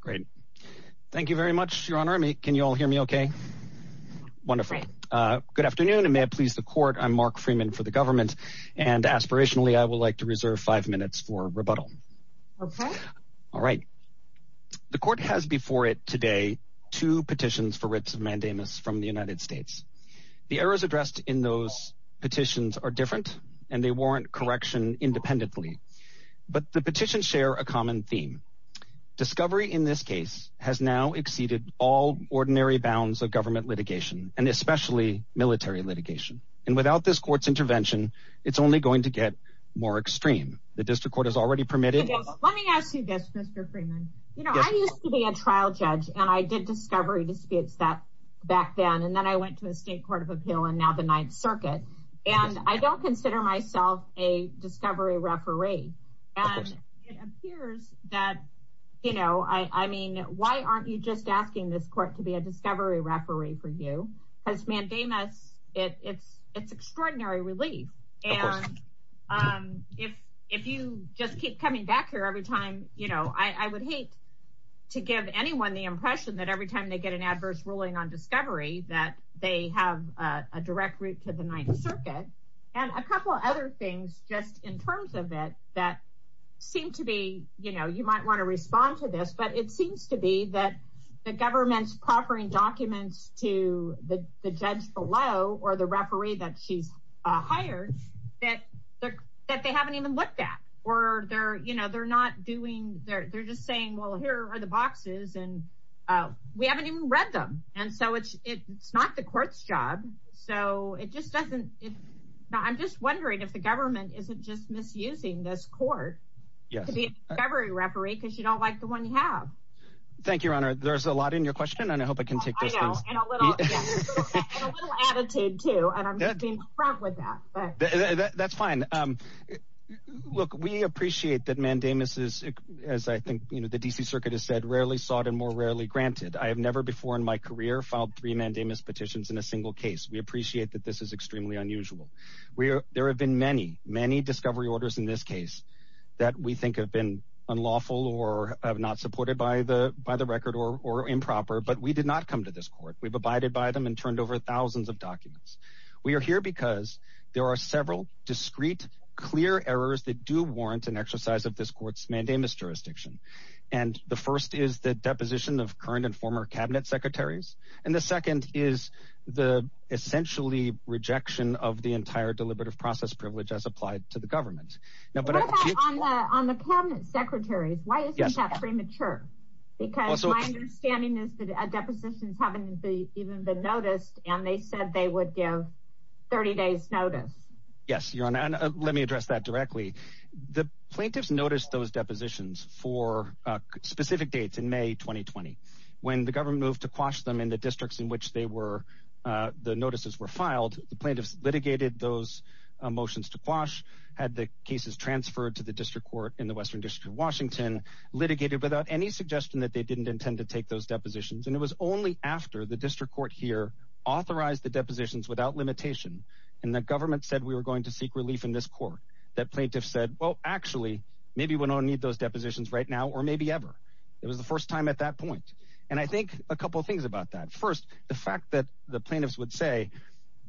Great. Thank you very much, Your Honor. Can you all hear me okay? Wonderful. Good afternoon and may it please the Court. I'm Mark Freeman for the government and aspirationally I would like to reserve five minutes for rebuttal. All right. The Court has before it today two petitions for writs of mandamus from the United States. The errors addressed in those petitions are different and they warrant correction independently. But the petitions share a common theme. Discovery in this case has now exceeded all ordinary bounds of government litigation and especially military litigation. And without this Court's intervention, it's only going to get more extreme. The District Court has already permitted- Let me ask you this, Mr. Freeman. I used to be a trial judge and I did discovery disputes back then and then I went to the State Court of Appeal and now the Ninth Circuit. And I don't consider myself a discovery referee. And it appears that, you know, I mean, why aren't you just asking this Court to be a discovery referee for you? Because mandamus, it's extraordinary relief. And if you just keep coming back here every time, you know, I would hate to give anyone the impression that every time they get an adverse ruling on discovery that they have a direct route to the Ninth Circuit. And a couple of other things just in terms of it that seem to be, you know, you might want to respond to this, but it seems to be that the government's proffering documents to the judge below or the referee that she's hired that they haven't even looked at. Or they're, you know, they're not doing, they're just saying, well, here are the boxes and we haven't even read them. And so it's not the court's job. So it just doesn't, I'm just wondering if the government isn't just misusing this court to be a discovery referee because you don't like the one you have. Thank you, Your Honor. There's a lot in your question and I hope I can take those things. I know, and a little attitude too, and I'm just being frank with that. That's fine. Look, we appreciate that mandamus is, as I think, you know, the DC Circuit has said, and more rarely granted. I have never before in my career filed three mandamus petitions in a single case. We appreciate that this is extremely unusual. There have been many, many discovery orders in this case that we think have been unlawful or not supported by the record or improper, but we did not come to this court. We've abided by them and turned over thousands of documents. We are here because there are several discrete, clear errors that do warrant an exercise of this deposition of current and former cabinet secretaries, and the second is the essentially rejection of the entire deliberative process privilege as applied to the government. Now, but on the cabinet secretaries, why isn't that premature? Because my understanding is that depositions haven't even been noticed, and they said they would give 30 days notice. Yes, Your Honor, and let me address that directly. The plaintiffs noticed those depositions for specific dates in May 2020. When the government moved to quash them in the districts in which the notices were filed, the plaintiffs litigated those motions to quash, had the cases transferred to the district court in the Western District of Washington, litigated without any suggestion that they didn't intend to take those depositions, and it was only after the district court here authorized the depositions without limitation and the government said we were going to seek relief in this court that plaintiffs said, well, actually, maybe we don't need those depositions right now or maybe ever. It was the first time at that point, and I think a couple of things about that. First, the fact that the plaintiffs would say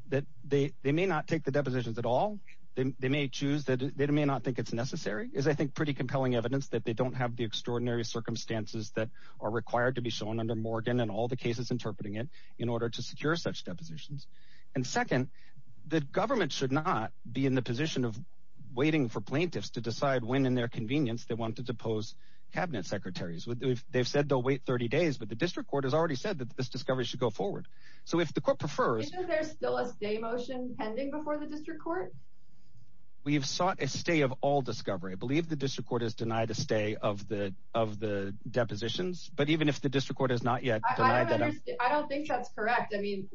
that they may not take the depositions at all. They may choose that they may not think it's necessary is, I think, pretty compelling evidence that they don't have the extraordinary circumstances that are required to be shown under Morgan and all the cases interpreting it in order to secure such depositions, and second, the government should not be in the position of waiting for plaintiffs to decide when in their convenience they want to depose cabinet secretaries. They've said they'll wait 30 days, but the district court has already said that this discovery should go forward, so if the court prefers... Is there still a stay motion pending before the district court? We've sought a stay of all discovery. I believe the district court has denied a stay of the depositions, but even if the district court has not yet denied that... I don't think that's correct. I mean,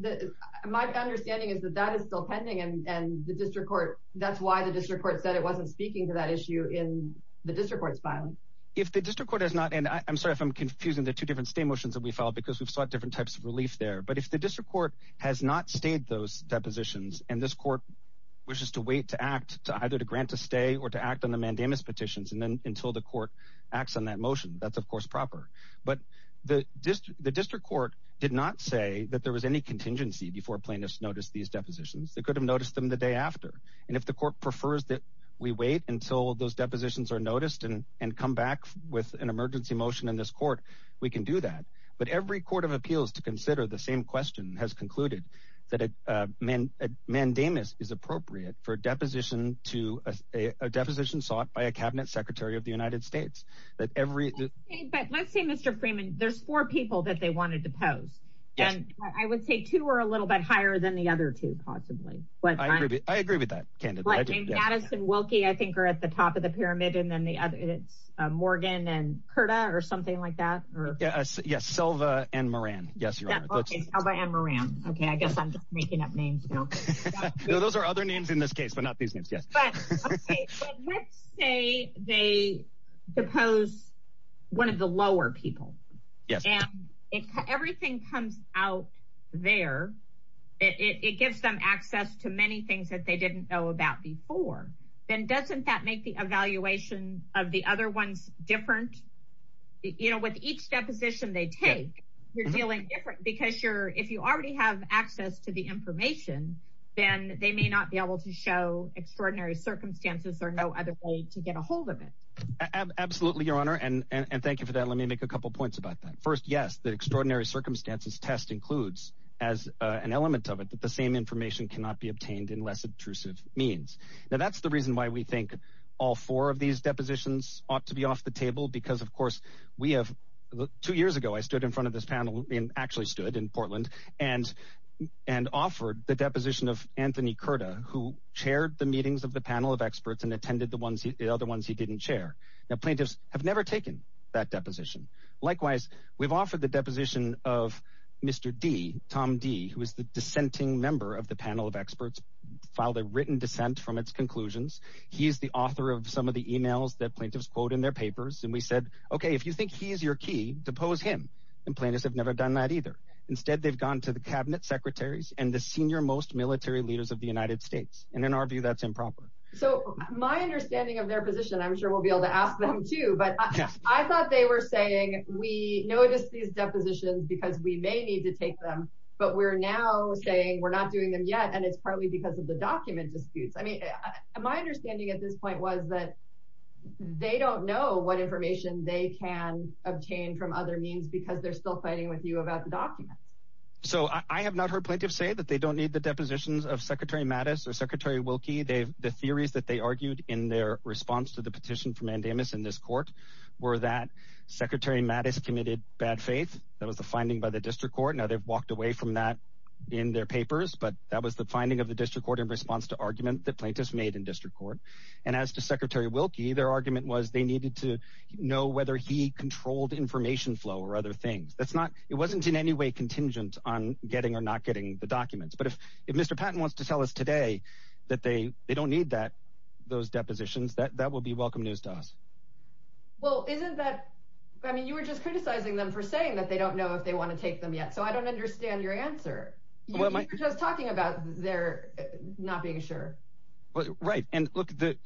my understanding is that that is still pending and the district court, that's why the district court said it the district court's filing. If the district court has not, and I'm sorry if I'm confusing the two different stay motions that we filed because we've sought different types of relief there, but if the district court has not stayed those depositions and this court wishes to wait to act to either to grant a stay or to act on the mandamus petitions and then until the court acts on that motion, that's of course proper, but the district court did not say that there was any contingency before plaintiffs noticed these depositions. They could have noticed them the day after, and if the court prefers that we wait until those depositions are noticed and come back with an emergency motion in this court, we can do that, but every court of appeals to consider the same question has concluded that a mandamus is appropriate for a deposition sought by a cabinet secretary of the United States. But let's say, Mr. Freeman, there's four people that they wanted to depose, and I would say two are a little bit higher than the other two possibly, but I agree with that candidly. Madison, Wilkie, I think are at the top of the pyramid, and then the other it's Morgan and Curta or something like that. Yes, Selva and Moran. Yes, your honor. Okay, Selva and Moran. Okay, I guess I'm just making up names now. No, those are other names in this case, but not these names. Okay, so let's say they depose one of the lower people, and everything comes out there. It gives them access to many things that they didn't know about before. Then doesn't that make the evaluation of the other ones different? You know, with each deposition they take, you're dealing different because if you already have access to the information, then they may not be able to show extraordinary circumstances or no other way to get a hold of it. Absolutely, your honor, and thank you for that. Let me make a couple points about that. First, yes, the extraordinary circumstances test includes as an element of it that the same information cannot be obtained in less intrusive means. Now, that's the reason why we think all four of these depositions ought to be off the table because, of course, two years ago, I stood in front of Anthony Curta, who chaired the meetings of the panel of experts and attended the other ones he didn't chair. Now, plaintiffs have never taken that deposition. Likewise, we've offered the deposition of Mr. D., Tom D., who is the dissenting member of the panel of experts, filed a written dissent from its conclusions. He's the author of some of the emails that plaintiffs quote in their papers, and we said, okay, if you think he is your key, depose him, and plaintiffs have never done that either. Instead, they've gone to the cabinet secretaries and the senior most military leaders of the United States, and in our view, that's improper. So my understanding of their position, I'm sure we'll be able to ask them, too, but I thought they were saying we noticed these depositions because we may need to take them, but we're now saying we're not doing them yet, and it's partly because of the document disputes. I mean, my understanding at this point was that they don't know what information they can obtain from other means because they're still fighting with you about the documents. So I have not heard plaintiffs say that they don't need the depositions of Secretary Mattis or Secretary Wilkie. The theories that they argued in their response to the petition for mandamus in this court were that Secretary Mattis committed bad faith. That was the finding by the district court. Now, they've walked away from that in their papers, but that was the finding of the district court in response to argument that plaintiffs made in district court, and as to Secretary Wilkie, their argument was they needed to know whether he controlled information flow or things. It wasn't in any way contingent on getting or not getting the documents, but if Mr. Patton wants to tell us today that they don't need those depositions, that will be welcome news to us. Well, isn't that, I mean, you were just criticizing them for saying that they don't know if they want to take them yet, so I don't understand your answer. You were just talking about their not being sure. Right, and look, the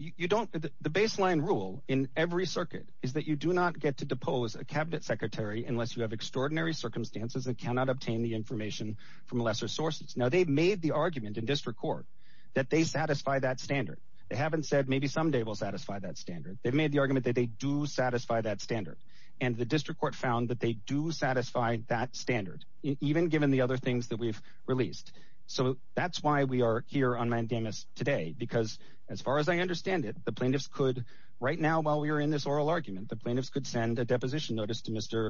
baseline rule in every circuit is that you do not get to depose a cabinet secretary unless you have extraordinary circumstances and cannot obtain the information from lesser sources. Now, they've made the argument in district court that they satisfy that standard. They haven't said maybe someday we'll satisfy that standard. They've made the argument that they do satisfy that standard, and the district court found that they do satisfy that standard, even given the other things that we've released. So that's why we are here on mandamus today, because as far as I understand it, the plaintiffs could, right now while we are in this oral argument, the plaintiffs could send a deposition notice to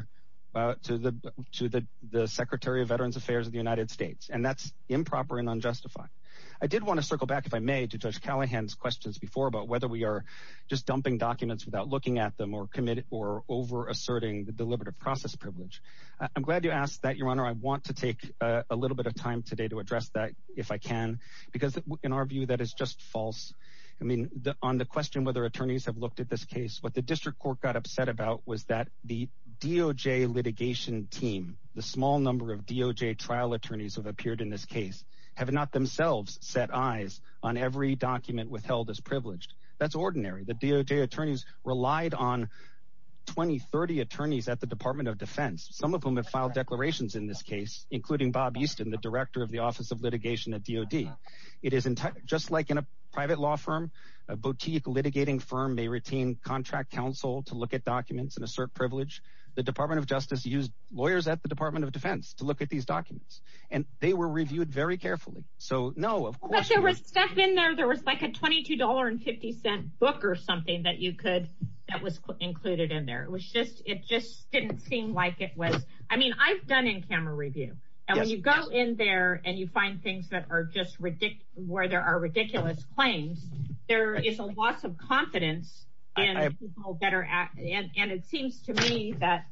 the Secretary of Veterans Affairs of the United States, and that's improper and unjustified. I did want to circle back, if I may, to Judge Callahan's questions before about whether we are just dumping documents without looking at them or over-asserting the deliberative process privilege. I'm glad you asked that, Your Honor. I want to take a little bit of time today to address that, if I can, because in our view that is just false. I mean, on the question whether attorneys have looked at this case, what the district court got upset about was that the DOJ litigation team, the small number of DOJ trial attorneys who have appeared in this case, have not themselves set eyes on every document withheld as privileged. That's ordinary. The DOJ attorneys relied on 20, 30 attorneys at the Department of Defense, some of whom have filed declarations in this case, including Bob Easton, the Director of the Office of Litigation at DOD. It is just like in a private law firm, a boutique litigating firm may retain contract counsel to look at documents and assert privilege. The Department of Justice used lawyers at the Department of Defense to look at these documents, and they were reviewed very carefully. So, no, of course. But there was stuff in there, there was like a $22.50 book or something that you could, that was included in there. It was just, it just didn't seem like it was. I mean, I've done in-camera review, and when you go in there and you find things that are just ridiculous, where there are ridiculous claims, there is a loss of confidence in people better at, and it seems to me that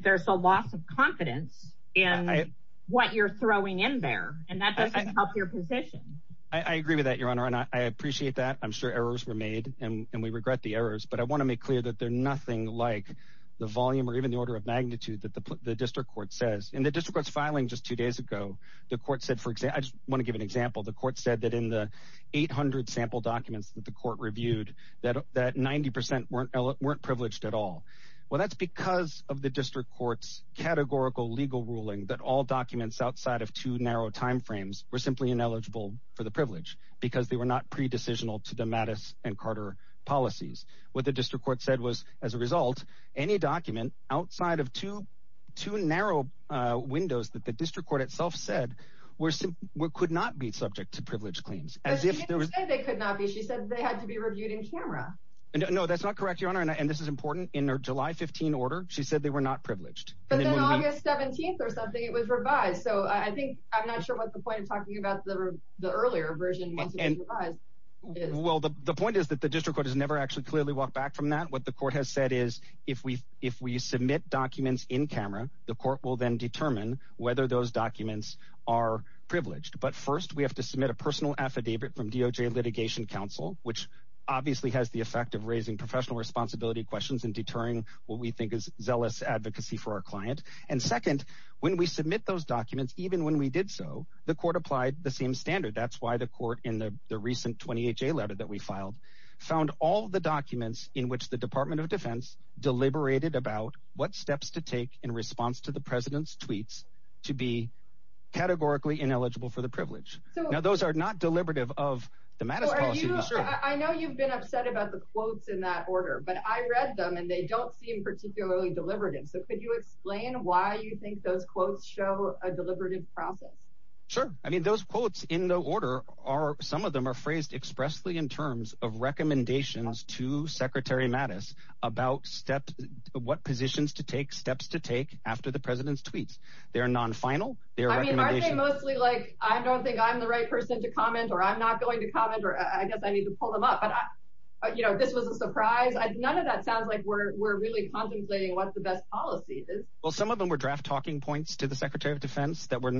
there's a loss of confidence in what you're throwing in there, and that doesn't help your position. I agree with that, Your Honor, and I appreciate that. I'm sure errors were made, and we regret the errors, but I want to make clear that they're nothing like the volume or even the order of magnitude that the District Court says. In the court said that in the 800 sample documents that the court reviewed, that 90% weren't privileged at all. Well, that's because of the District Court's categorical legal ruling that all documents outside of two narrow timeframes were simply ineligible for the privilege because they were not pre-decisional to the Mattis and Carter policies. What the District Court said was, as a result, any document outside of two narrow windows that the District Court itself said could not be subject to privileged claims. But she didn't say they could not be. She said they had to be reviewed in camera. No, that's not correct, Your Honor, and this is important. In her July 15 order, she said they were not privileged. But then August 17th or something, it was revised, so I think, I'm not sure what the point of talking about the earlier version once it was revised is. Well, the point is that the District Court has never actually clearly walked back from that. What the court has said is, if we submit documents in camera, the court will then determine whether those documents are privileged. But first, we have to submit a personal affidavit from DOJ Litigation Council, which obviously has the effect of raising professional responsibility questions and deterring what we think is zealous advocacy for our client. And second, when we submit those documents, even when we did so, the court applied the same standard. That's why the court in the recent 28-J letter that we filed found all the documents in which the Department of Defense deliberated about what steps to take in response to the President's tweets to be categorically ineligible for the privilege. Now, those are not deliberative of the Mattis policy. I know you've been upset about the quotes in that order, but I read them and they don't seem particularly deliberative. So could you explain why you think those quotes show a deliberative process? Sure. I mean, those quotes in the order are, some of them are phrased expressly in terms of recommendations to Secretary Mattis about what positions to take, steps to take after the President's tweets. They're non-final. I mean, are they mostly like, I don't think I'm the right person to comment or I'm not going to comment or I guess I need to pull them up. But this was a surprise. None of that sounds like we're really contemplating what the best policy is. Well, some of them were draft talking points to the Secretary of Defense that were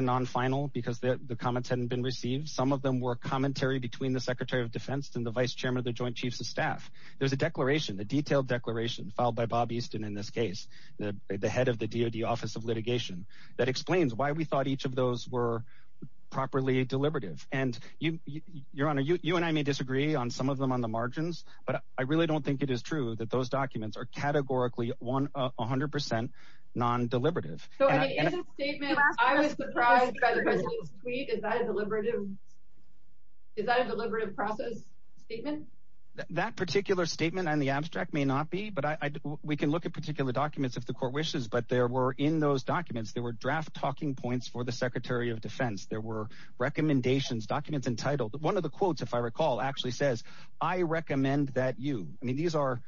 non-final because the comments hadn't been received. Some of them were commentary between the Secretary of Defense and the Vice Chairman of the Joint Chiefs of Staff. There's a declaration, a detailed declaration filed by Bob Easton in this case, the head of the DOD Office of Litigation, that explains why we thought each of those were properly deliberative. And your Honor, you and I may disagree on some of them on the margins, but I really don't think it is true that those documents are categorically 100% non-deliberative. Is that a deliberative process statement? That particular statement and the abstract may not be, but we can look at particular documents if the Court wishes. But there were in those documents, there were draft talking points for the Secretary of Defense. There were recommendations, documents entitled. One of the quotes, if I recall, actually says, I recommend that you, I mean, these are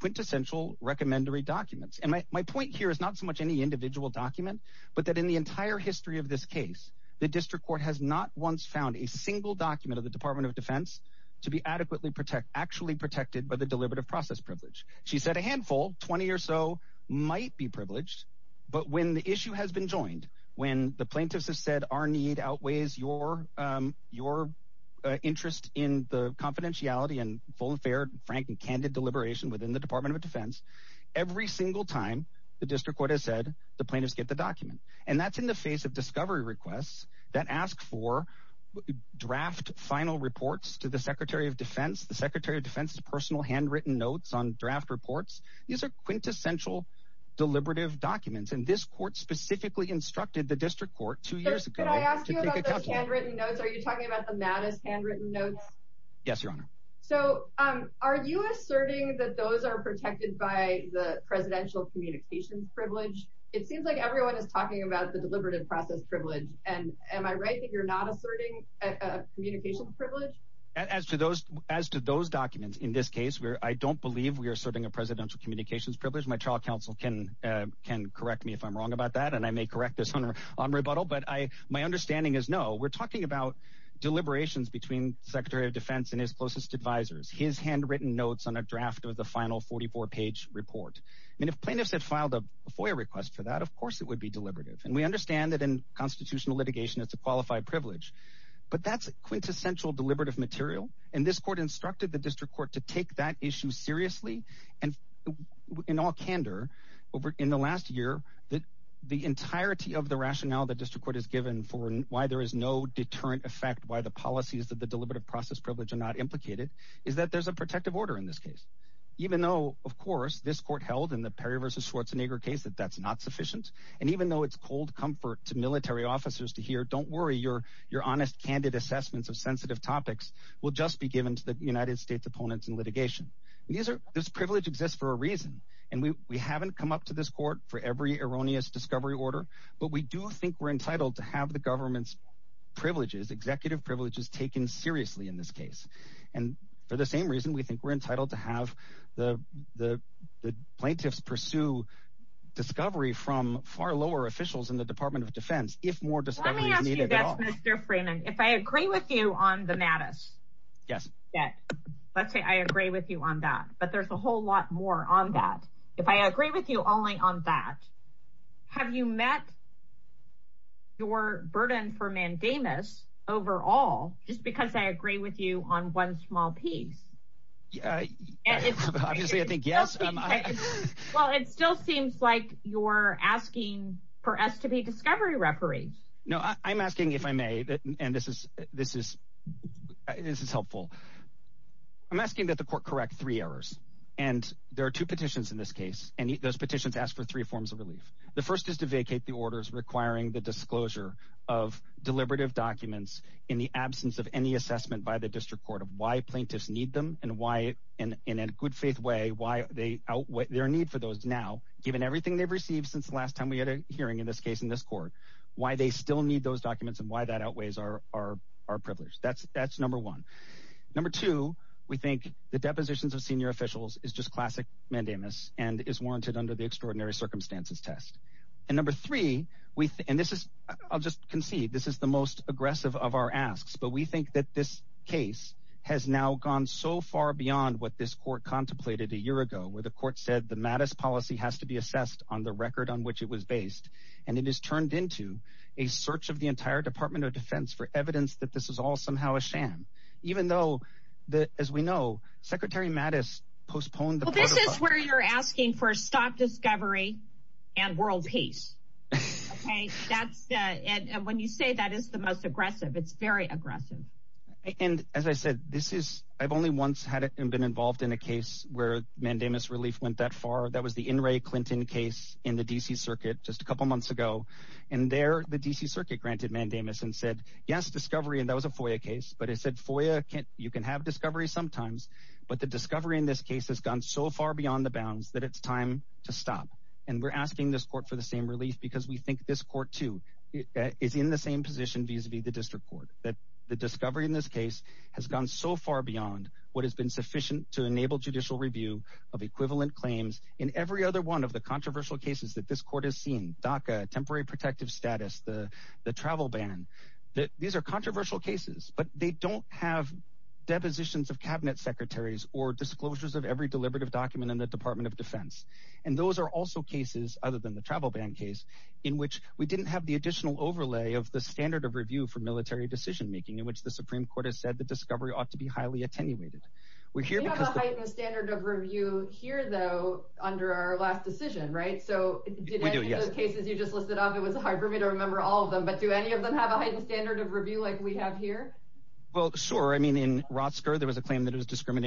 quintessential recommendary documents. And my point here is not so much any individual document, but that in the entire history of this case, the District Court has not once found a single document of the Department of Defense to be adequately protect, actually protected by the deliberative process privilege. She said a handful, 20 or so might be privileged, but when the issue has been joined, when the plaintiffs have said our need outweighs your interest in the confidentiality and full and fair, frank and candid deliberation within the Department of Defense, every single time the District Court has said the plaintiffs get the document. And that's in the face of discovery requests that ask for draft final reports to the Secretary of Defense, the Secretary of Defense's personal handwritten notes on draft reports. These are quintessential deliberative documents. And this court specifically instructed the District Court two years ago. Can I ask you about those handwritten notes? Are you talking about the Mattis handwritten notes? Yes, Your Honor. So are you asserting that those are protected by the presidential communication privilege? It seems like everyone is talking about the deliberative process privilege. And am I right that you're not asserting a communication privilege? As to those, as to those documents in this case, where I don't believe we are serving a presidential communications privilege, my trial counsel can correct me if I'm wrong about that. And I may correct this on rebuttal, but my understanding is no. We're talking about deliberations between Secretary of Defense and his closest advisors, his handwritten notes on a draft of the final 44-page report. And if plaintiffs had filed a FOIA request for that, of course, it would be deliberative. And we understand that in constitutional litigation, it's a qualified privilege. But that's quintessential deliberative material. And this court instructed the District Court to take that issue seriously. And in all candor, over in the last year, the entirety of the rationale the District Court has given for why there is no deterrent effect, why the policies of the deliberative process privilege are not implicated, is that there's a protective order in this case. Even though, of course, this court held in the Perry v. Schwarzenegger case that that's not sufficient. And even though it's cold comfort to military officers to hear, don't worry, your honest, candid assessments of sensitive topics will just be given to the United States opponents in litigation. This privilege exists for a reason. And we haven't come up to this court for every erroneous discovery order. But we do think we're entitled to have the government's privileges, executive privileges, taken seriously in this case. And for the same reason, we think we're entitled to have the plaintiffs pursue discovery from far lower officials in the Department of Defense if more discovery is needed at all. Let me ask you this, Mr. Freeman. If I agree with you on the mattice. Yes. Let's say I agree with you on that. But there's a whole lot more on that. If I agree with you only on that, have you met your burden for mandamus overall, just because I agree with you on one small piece? Obviously, I think yes. Well, it still seems like you're asking for us to be discovery referees. No, I'm asking if I may, and this is helpful. I'm asking that the court correct three errors. And there are two petitions in this case. And those petitions ask for three forms of relief. The first is to vacate the orders requiring the disclosure of deliberative documents in the absence of any assessment by the district court of why plaintiffs need them and why, and in a good faith way, why their need for those now, given everything they've received since the hearing in this case in this court, why they still need those documents and why that outweighs our privilege. That's number one. Number two, we think the depositions of senior officials is just classic mandamus and is warranted under the extraordinary circumstances test. And number three, and this is, I'll just concede, this is the most aggressive of our asks, but we think that this case has now gone so far beyond what this court contemplated a year ago, where the court said the Mattis policy has to be assessed on the record on which it was based. And it is turned into a search of the entire Department of Defense for evidence that this is all somehow a sham, even though the, as we know, Secretary Mattis postponed. Well, this is where you're asking for a stop discovery and world peace. Okay, that's, when you say that is the most aggressive, it's very aggressive. And as I said, this is, I've only once had been involved in a case where mandamus relief went that far. That was the in Ray Clinton case in the DC circuit just a couple of months ago. And there, the DC circuit granted mandamus and said, yes, discovery. And that was a FOIA case, but it said, FOIA can't, you can have discovery sometimes, but the discovery in this case has gone so far beyond the bounds that it's time to stop. And we're asking this court for the same relief because we think this court too is in the same position vis-a-vis the district court that the discovery in this case has gone so far beyond what has been sufficient to enable judicial review of equivalent claims in every other one of the controversial cases that this court has seen, DACA, temporary protective status, the travel ban, that these are controversial cases, but they don't have depositions of cabinet secretaries or disclosures of every deliberative document in the Department of Defense. And those are also cases other than the travel ban case in which we didn't have the additional overlay of the standard of review for military decision-making in which the Supreme Court has said the discovery ought to be highly attenuated. We're here because the standard of review here though, under our last decision, right? So did any of those cases you just listed off? It was hard for me to remember all of them, but do any of them have a heightened standard of review like we have here? Well, sure. I mean, in Rotsker, there was a claim that it was there was a claim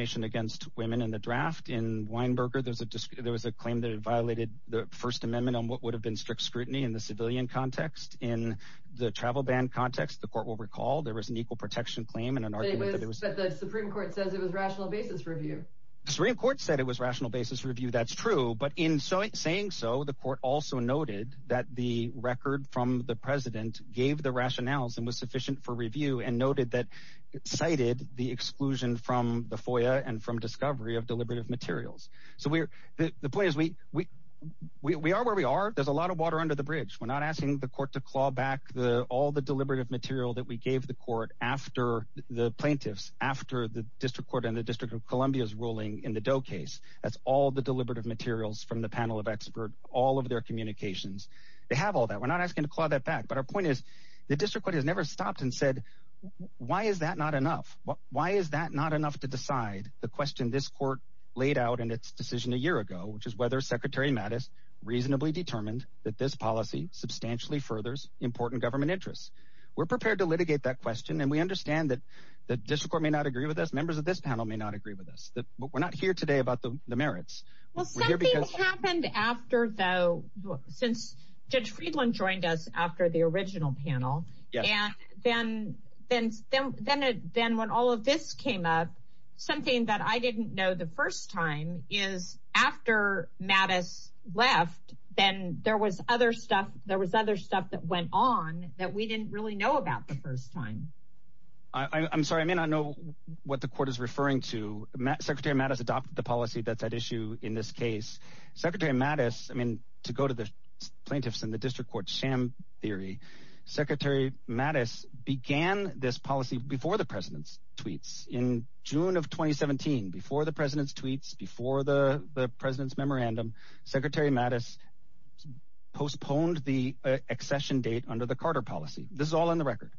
that it violated the First Amendment on what would have been strict scrutiny in the civilian context. In the travel ban context, the court will recall there was an equal protection claim and an argument that the Supreme Court says it was rational basis review. The Supreme Court said it was rational basis review. That's true. But in saying so, the court also noted that the record from the president gave the rationales and was sufficient for review and noted that cited the exclusion from the FOIA and from discovery of deliberative materials. So the point is, we are where we are. There's a lot of water under the bridge. We're not asking the court to claw back all the deliberative material that we gave the court after the plaintiffs, after the District Court and the District of Columbia's ruling in the Doe case. That's all the deliberative materials from the panel of expert, all of their communications. They have all that. We're not asking to claw that back. But our point is, the District Court has not enough. Why is that not enough to decide the question this court laid out in its decision a year ago, which is whether Secretary Mattis reasonably determined that this policy substantially furthers important government interests? We're prepared to litigate that question. And we understand that the District Court may not agree with us. Members of this panel may not agree with us. But we're not here today about the merits. Well, something happened after, though, since Judge Friedland joined us after the original panel. And then when all of this came up, something that I didn't know the first time is after Mattis left, then there was other stuff, there was other stuff that went on that we didn't really know about the first time. I'm sorry, I may not know what the court is referring to. Secretary Mattis adopted the sham theory. Secretary Mattis began this policy before the president's tweets in June of 2017. Before the president's tweets, before the president's memorandum, Secretary Mattis postponed the accession date under the Carter policy. This is all in the record.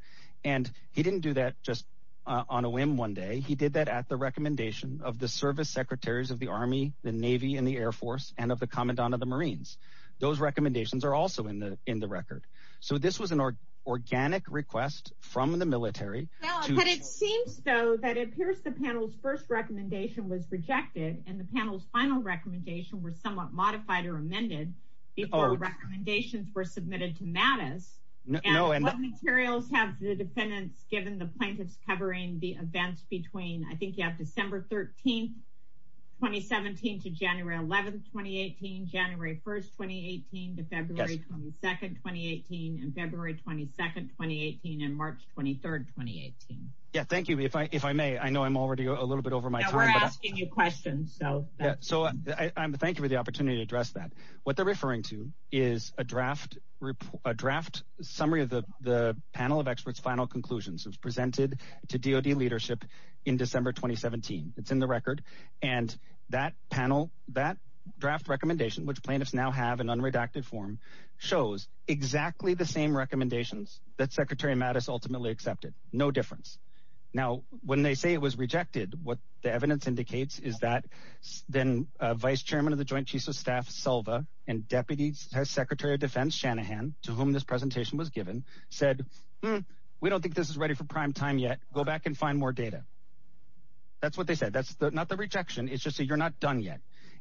And he didn't do that just on a whim one day. He did that at the recommendation of the service secretaries of the Army, the Navy and the Air Force and of the Commandant of the Marines. Those recommendations are also in the record. So this was an organic request from the military. But it seems, though, that it appears the panel's first recommendation was rejected, and the panel's final recommendation was somewhat modified or amended before the recommendations were submitted to Mattis. And what materials have the defendants given the plaintiffs covering the events between, I think you have December 13, 2017 to January 11, 2018, January 1st, 2018 to February 22nd, 2018 and February 22nd, 2018 and March 23rd, 2018. Yeah, thank you. If I may, I know I'm already a little bit over my time. We're asking you questions. So thank you for the opportunity to address that. What they're referring to is a draft summary of the panel of experts final conclusions was presented to DOD leadership in December 2017. It's in the record. And that panel, that draft recommendation, which plaintiffs now have an unredacted form, shows exactly the same recommendations that Secretary Mattis ultimately accepted. No difference. Now, when they say it was rejected, what the evidence indicates is that then Vice Chairman of the Joint Chiefs of Staff Selva and Deputy Secretary of Defense Shanahan, to whom this presentation was given, said, we don't think this is ready for prime time yet. Go back and find more data. That's what they said. That's not the rejection. It's just that you're not done yet.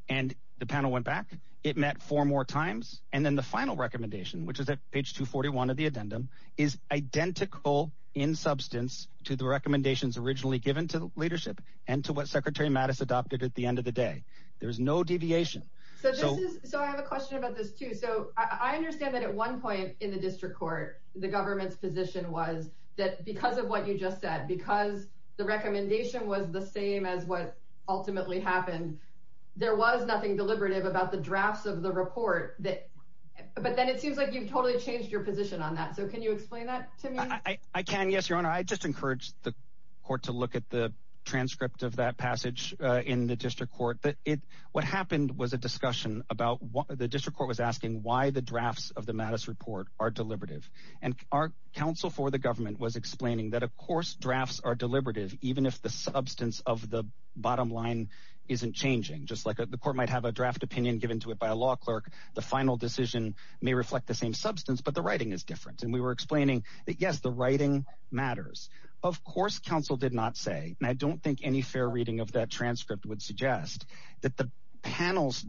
And the panel went back. It met four more times. And then the final recommendation, which is at page 241 of the addendum, is identical in substance to the recommendations originally given to leadership and to what Secretary Mattis adopted at the end of the day. There is no deviation. So I have a question about this, too. So I understand that at one point in the district court, the government's position was that because of what you just said, because the recommendation was the same as what ultimately happened, there was nothing deliberative about the drafts of the report. But then it seems like you've totally changed your position on that. So can you explain that to me? I can. Yes, Your Honor. I just encouraged the court to look at the transcript of that passage in the district court. What happened was a discussion about what the district court was asking, why the drafts of was explaining that, of course, drafts are deliberative, even if the substance of the bottom line isn't changing, just like the court might have a draft opinion given to it by a law clerk. The final decision may reflect the same substance, but the writing is different. And we were explaining that, yes, the writing matters. Of course, counsel did not say, and I don't think any fair reading of that transcript would suggest that the panel's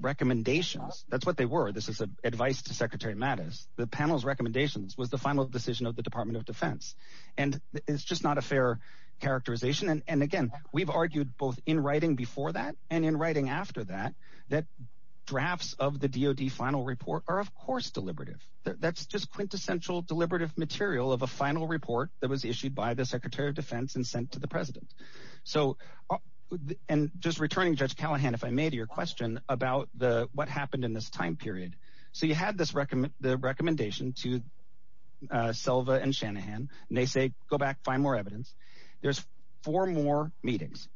recommendations, that's what they were. This is advice to Secretary Mattis. The panel's recommendations was the final decision of the Department of Defense. And it's just not a fair characterization. And again, we've argued both in writing before that and in writing after that, that drafts of the DOD final report are, of course, deliberative. That's just quintessential deliberative material of a final report that was issued by the Secretary of Defense and sent to the president. And just returning, Judge Callahan, if I may, to your question about what happened in this time period. So you had the recommendation to Selva and Shanahan, and they say, go back, find more evidence. There's four more meetings.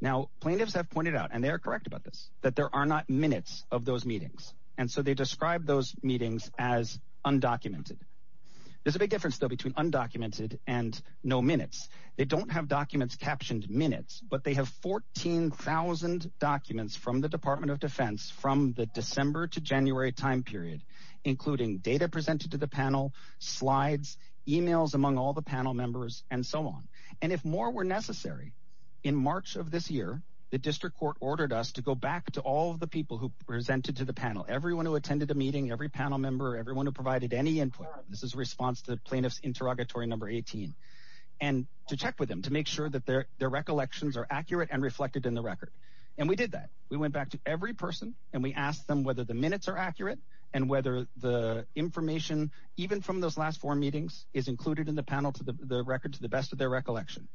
Now, plaintiffs have pointed out, and they are correct about this, that there are not minutes of those meetings. And so they describe those meetings as undocumented. There's a big difference, though, between undocumented and no minutes. They don't have documents captioned minutes, but they have 14,000 documents from the Department of Defense from the December to January time period, including data presented to the panel, slides, emails among all the panel members, and so on. And if more were necessary, in March of this year, the district court ordered us to go back to all of the people who presented to the panel, everyone who attended the meeting, every panel member, everyone who provided any input. This is response to the plaintiff's interrogatory number 18, and to check with them to make sure that their recollections are accurate and reflected in the record. And we did that. We went back to every person, and we asked them whether the minutes are accurate and whether the information, even from those last four meetings, is included in the panel to the record to the best of their recollection.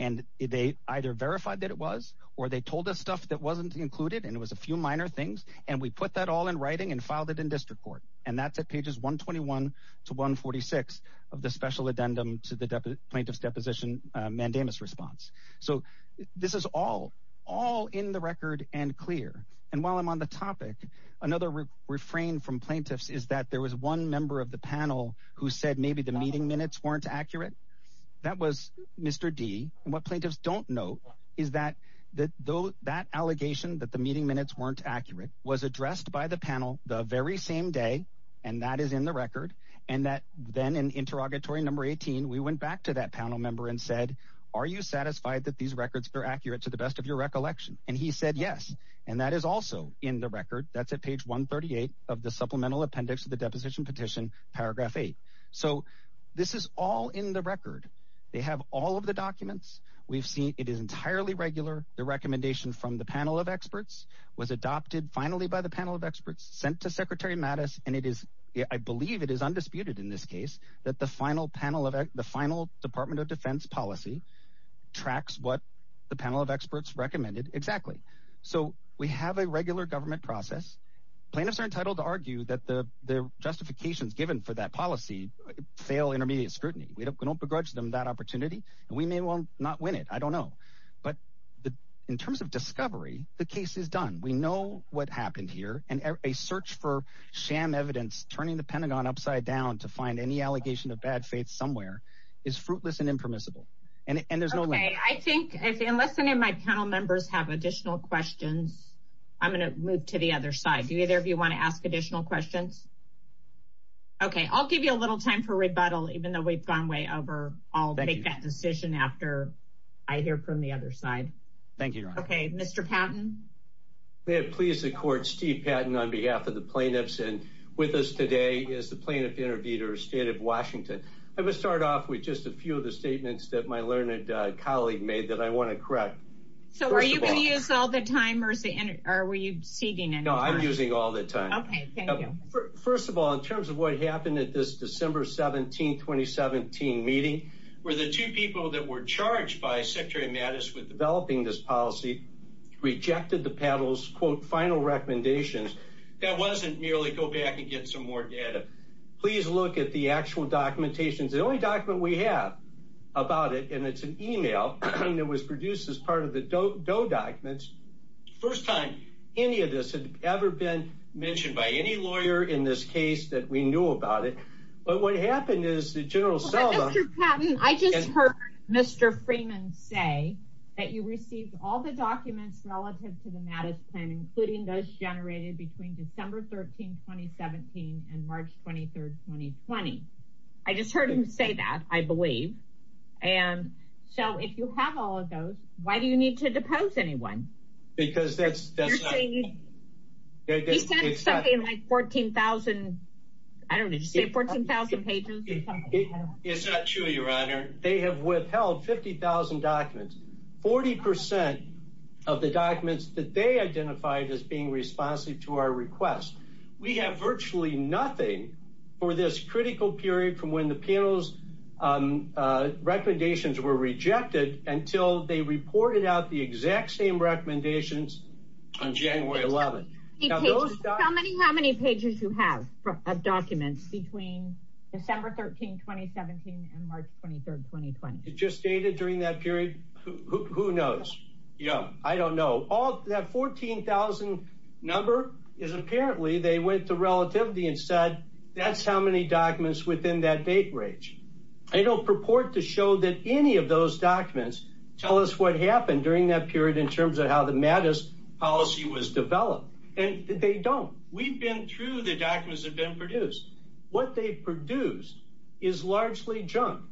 And they either verified that it was, or they told us stuff that wasn't included, and it was a few minor things. And we put that all in writing and filed it in district court. And that's at pages 121 to 146 of the special addendum to the plaintiff's deposition mandamus response. So this is all in the record and clear. And while I'm on the topic, another refrain from plaintiffs is that there was one member of the panel who said maybe the meeting minutes weren't accurate. That was Mr. D. And what plaintiffs don't know is that that allegation that the meeting minutes weren't accurate was addressed by the panel the very same day, and that is in the record, and that then in interrogatory number 18, we went back to that panel member and said, are you satisfied that these records are accurate to the best of your recollection? And he said yes, and that is also in the record. That's at page 138 of the supplemental appendix to the deposition petition, paragraph 8. So this is all in the record. They have all of the documents. We've seen it is entirely regular. The recommendation from the panel of experts was adopted finally by the panel of experts, sent to Secretary Mattis, and it is, I believe it is undisputed in this case, that the final panel of the final Department of Defense policy tracks what the panel of experts recommended exactly. So we have a regular government process. Plaintiffs are entitled to argue that the justifications given for that policy fail intermediate scrutiny. We don't begrudge them that opportunity, and we may well not win it. I don't know. But in terms of discovery, the case is done. We know what happened here, and a search for sham evidence, turning the Pentagon upside down to find any allegation of bad faith somewhere is fruitless and impermissible, and there's no way. I think unless any of my panel members have additional questions, I'm going to move to the other side. Do either of you want to ask additional questions? Okay, I'll give you a little time for rebuttal, even though we've gone way over. I'll make that decision after I hear from the other side. Thank you. Okay, Mr. Patton. May it please the court, Steve Patton on behalf of the plaintiffs, and with us today is the plaintiff interviewer, State of Washington. I'm going to start off with just a few of the statements that my learned colleague made that I want to correct. So are you going to use all the time, or were you ceding any time? No, I'm using all the time. Okay, thank you. First of all, in terms of what happened at this December 17, 2017 meeting, where the two people that were charged by Secretary Mattis with final recommendations, that wasn't merely go back and get some more data. Please look at the actual documentation. The only document we have about it, and it's an email that was produced as part of the DOE documents. First time any of this had ever been mentioned by any lawyer in this case that we knew about it. But what happened is that General Selma... Mr. Patton, I just heard Mr. Freeman say that you received all the documents relative to the Mattis plan, including those generated between December 13, 2017 and March 23, 2020. I just heard him say that, I believe. And so if you have all of those, why do you need to depose anyone? Because that's... He said it's something like 14,000... I don't know, did you say 14,000 pages? It's not true, Your Honor. They have withheld 50,000 documents. 40% of the documents that they identified as being responsive to our request. We have virtually nothing for this critical period from when the panel's recommendations were rejected until they reported out the exact same recommendations on January 11. How many pages do you have of documents between December 13, 2017 and March 23, 2020? It just dated during that period? Who knows? Yeah. I don't know. All that 14,000 number is apparently they went to relativity and said, that's how many documents within that date range. I don't purport to show that any of those documents tell us what happened during that period in terms of how the Mattis policy was developed. And they don't. We've been through the documents that have been produced. What they've produced is largely junk.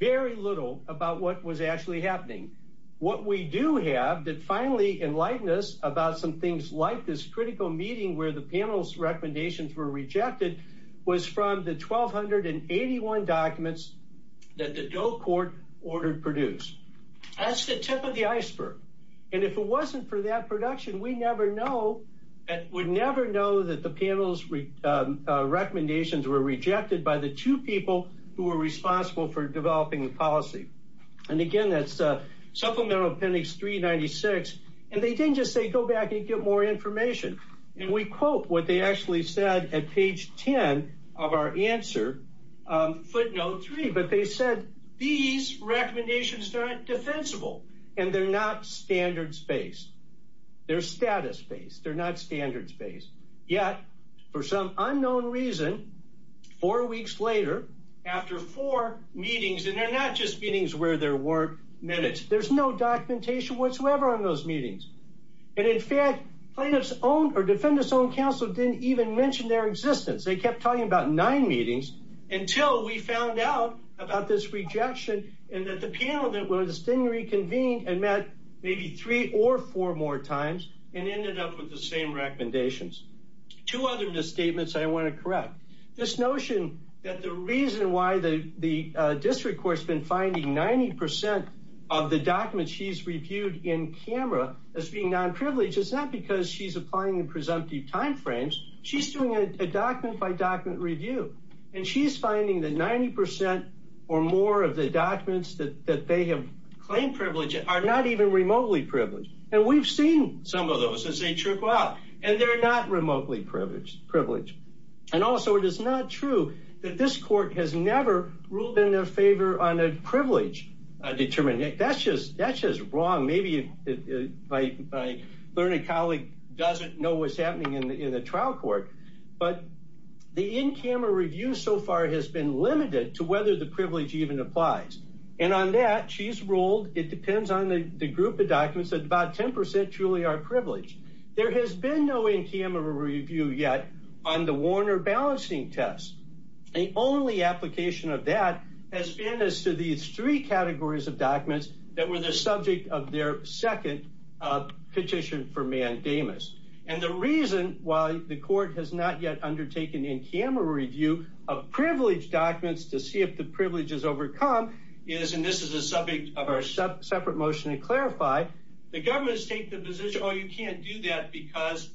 Very little about what was actually happening. What we do have that finally enlightened us about some things like this critical meeting where the panel's recommendations were rejected was from the 1,281 documents that the Doe Court ordered produced. That's the tip of the iceberg. And if it wasn't for that production, we never know. We'd never know that the panel's recommendations were rejected by the two people who were responsible for developing the policy. And again, that's Supplemental Appendix 396. And they didn't just say, go back and get more information. And we quote what they actually said at page 10 of our answer, footnote three. But they said, these recommendations aren't defensible. And they're not standards-based. They're status-based. They're not standards-based. Yet, for some unknown reason, four weeks later, after four meetings, and they're not just meetings where there weren't minutes. There's no documentation whatsoever on those meetings. And in fact, plaintiff's own or defendant's own counsel didn't even mention their existence. They kept talking about nine meetings until we found out about this rejection and that the panel that was then reconvened and met maybe three or four more times and ended up with the same recommendations. Two other misstatements I want to correct. This notion that the reason why the district court's been finding 90% of the documents she's reviewed in camera as being non-privileged is not because she's applying in presumptive time frames. She's doing a document-by-document review. And she's finding that 90% or more of the documents that they have claimed privileged are not even remotely privileged. And we've seen some of those as they trickle out. And they're not remotely privileged. And also, it is not true that this court has never ruled in their favor on learning colleague doesn't know what's happening in the trial court. But the in-camera review so far has been limited to whether the privilege even applies. And on that, she's ruled it depends on the group of documents that about 10% truly are privileged. There has been no in-camera review yet on the Warner balancing test. The only application of that has been as to these three categories of petition for mandamus. And the reason why the court has not yet undertaken in-camera review of privilege documents to see if the privilege is overcome is, and this is a subject of our separate motion to clarify, the government's take the position, oh, you can't do that because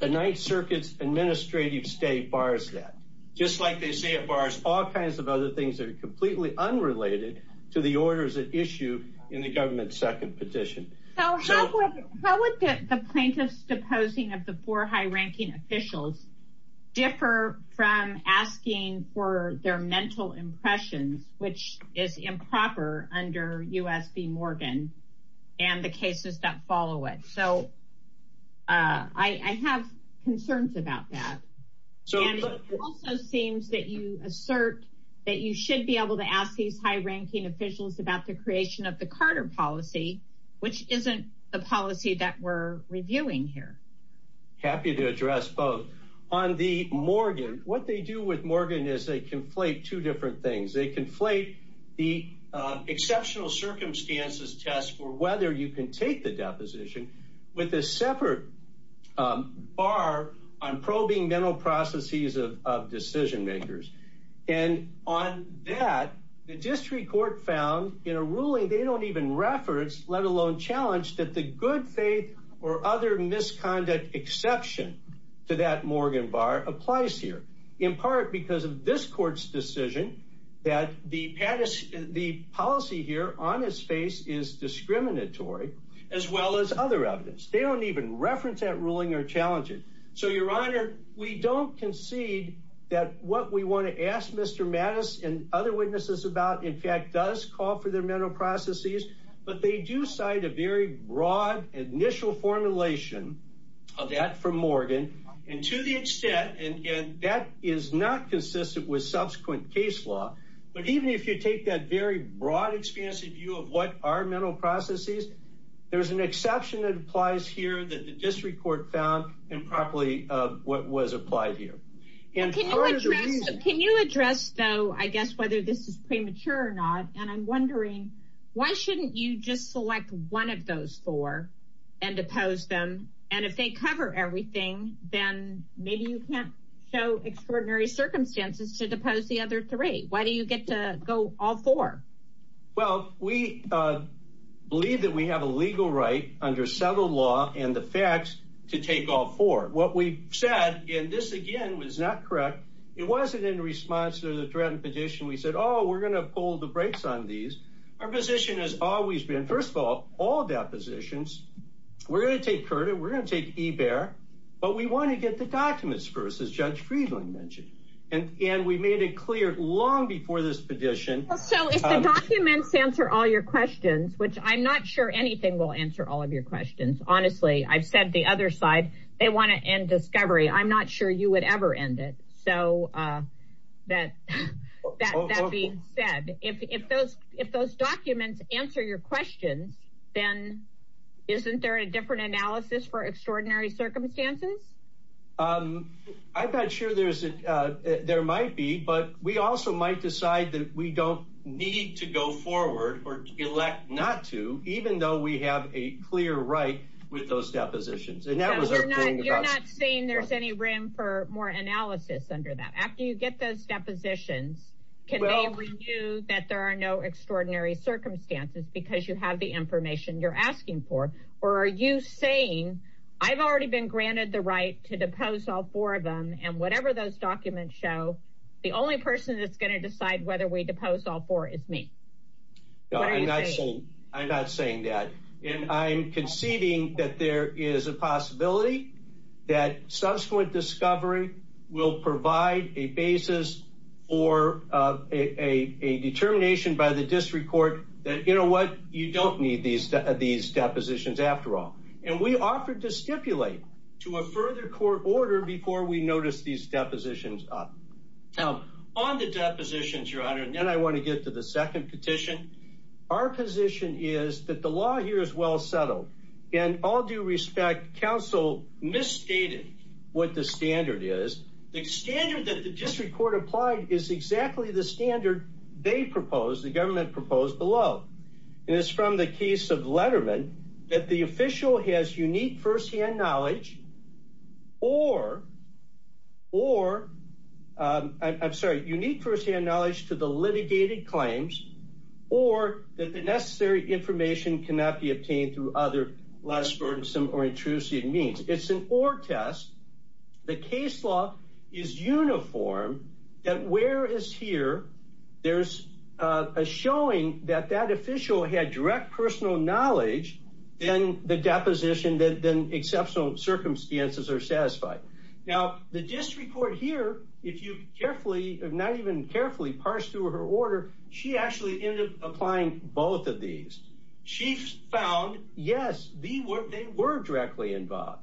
the Ninth Circuit's administrative stay bars that. Just like they say it bars all kinds of other things that are completely unrelated to the orders at issue in the government's petition. So how would the plaintiff's deposing of the four high-ranking officials differ from asking for their mental impressions, which is improper under U.S. v. Morgan and the cases that follow it? So I have concerns about that. So it also seems that you assert that you should be able to ask these high-ranking officials about the creation of the Carter policy which isn't the policy that we're reviewing here. Happy to address both. On the Morgan, what they do with Morgan is they conflate two different things. They conflate the exceptional circumstances test for whether you can take the deposition with a separate bar on probing mental processes of decision makers. And on that, the district court found in a ruling they don't even reference, let alone challenge that the good faith or other misconduct exception to that Morgan bar applies here in part because of this court's decision that the policy here on his face is discriminatory as well as other evidence. They don't even reference that ruling or challenge it. So your honor, we don't concede that what we want to ask Mr. Mattis and other witnesses about, in fact, does call for their mental processes, but they do cite a very broad initial formulation of that from Morgan. And to the extent, and that is not consistent with subsequent case law, but even if you take that very broad, expansive view of what are mental processes, there's an exception that applies here that the district court found improperly of what was premature or not. And I'm wondering why shouldn't you just select one of those four and depose them? And if they cover everything, then maybe you can't show extraordinary circumstances to depose the other three. Why do you get to go all four? Well, we believe that we have a legal right under settled law and the facts to take all four. What we said in this again was not correct. It wasn't in response to the threatened petition. We said, oh, we're going to pull the brakes on these. Our position has always been, first of all, all depositions, we're going to take CURTA, we're going to take eBAR, but we want to get the documents first, as Judge Friedland mentioned. And we made it clear long before this petition. So if the documents answer all your questions, which I'm not sure anything will answer all of your questions. Honestly, I've said the other side, they want to end discovery. I'm not sure you would ever end it. So that being said, if those documents answer your questions, then isn't there a different analysis for extraordinary circumstances? I'm not sure there might be, but we also might decide that we don't need to go forward or elect not to, even though we have a clear right with those depositions. You're not saying there's any room for more analysis under that. After you get those depositions, can they review that there are no extraordinary circumstances because you have the information you're asking for? Or are you saying, I've already been granted the right to depose all four of them and whatever those documents show, the only person that's going to decide whether we depose all four is me. No, I'm not saying that. And I'm conceding that there is a possibility that subsequent discovery will provide a basis for a determination by the district court that, you know what, you don't need these depositions after all. And we offered to stipulate to a deposition. Now on the depositions, your honor, and then I want to get to the second petition. Our position is that the law here is well settled and all due respect, council misstated what the standard is. The standard that the district court applied is exactly the standard they proposed, the government proposed below. And it's from the case of Letterman that the official has unique firsthand knowledge or, I'm sorry, unique firsthand knowledge to the litigated claims, or that the necessary information cannot be obtained through other less burdensome or intrusive means. It's an or test. The case law is uniform that where is here, there's a showing that that exceptional circumstances are satisfied. Now the district court here, if you carefully, not even carefully parse through her order, she actually ended up applying both of these. She found, yes, they were directly involved.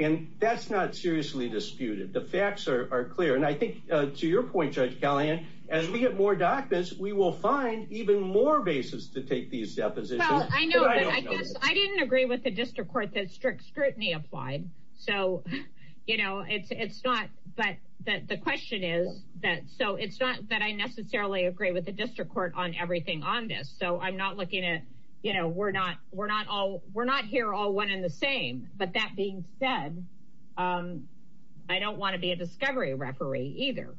And that's not seriously disputed. The facts are clear. And I think to your point, Judge Kellyanne, as we get more documents, we will find even more bases to take these depositions. I know, but I guess I didn't agree with the district court that strict scrutiny applied. So, you know, it's not, but the question is that, so it's not that I necessarily agree with the district court on everything on this. So I'm not looking at, you know, we're not, we're not all, we're not here all one in the same, but that being said, I don't want to be a discovery referee either.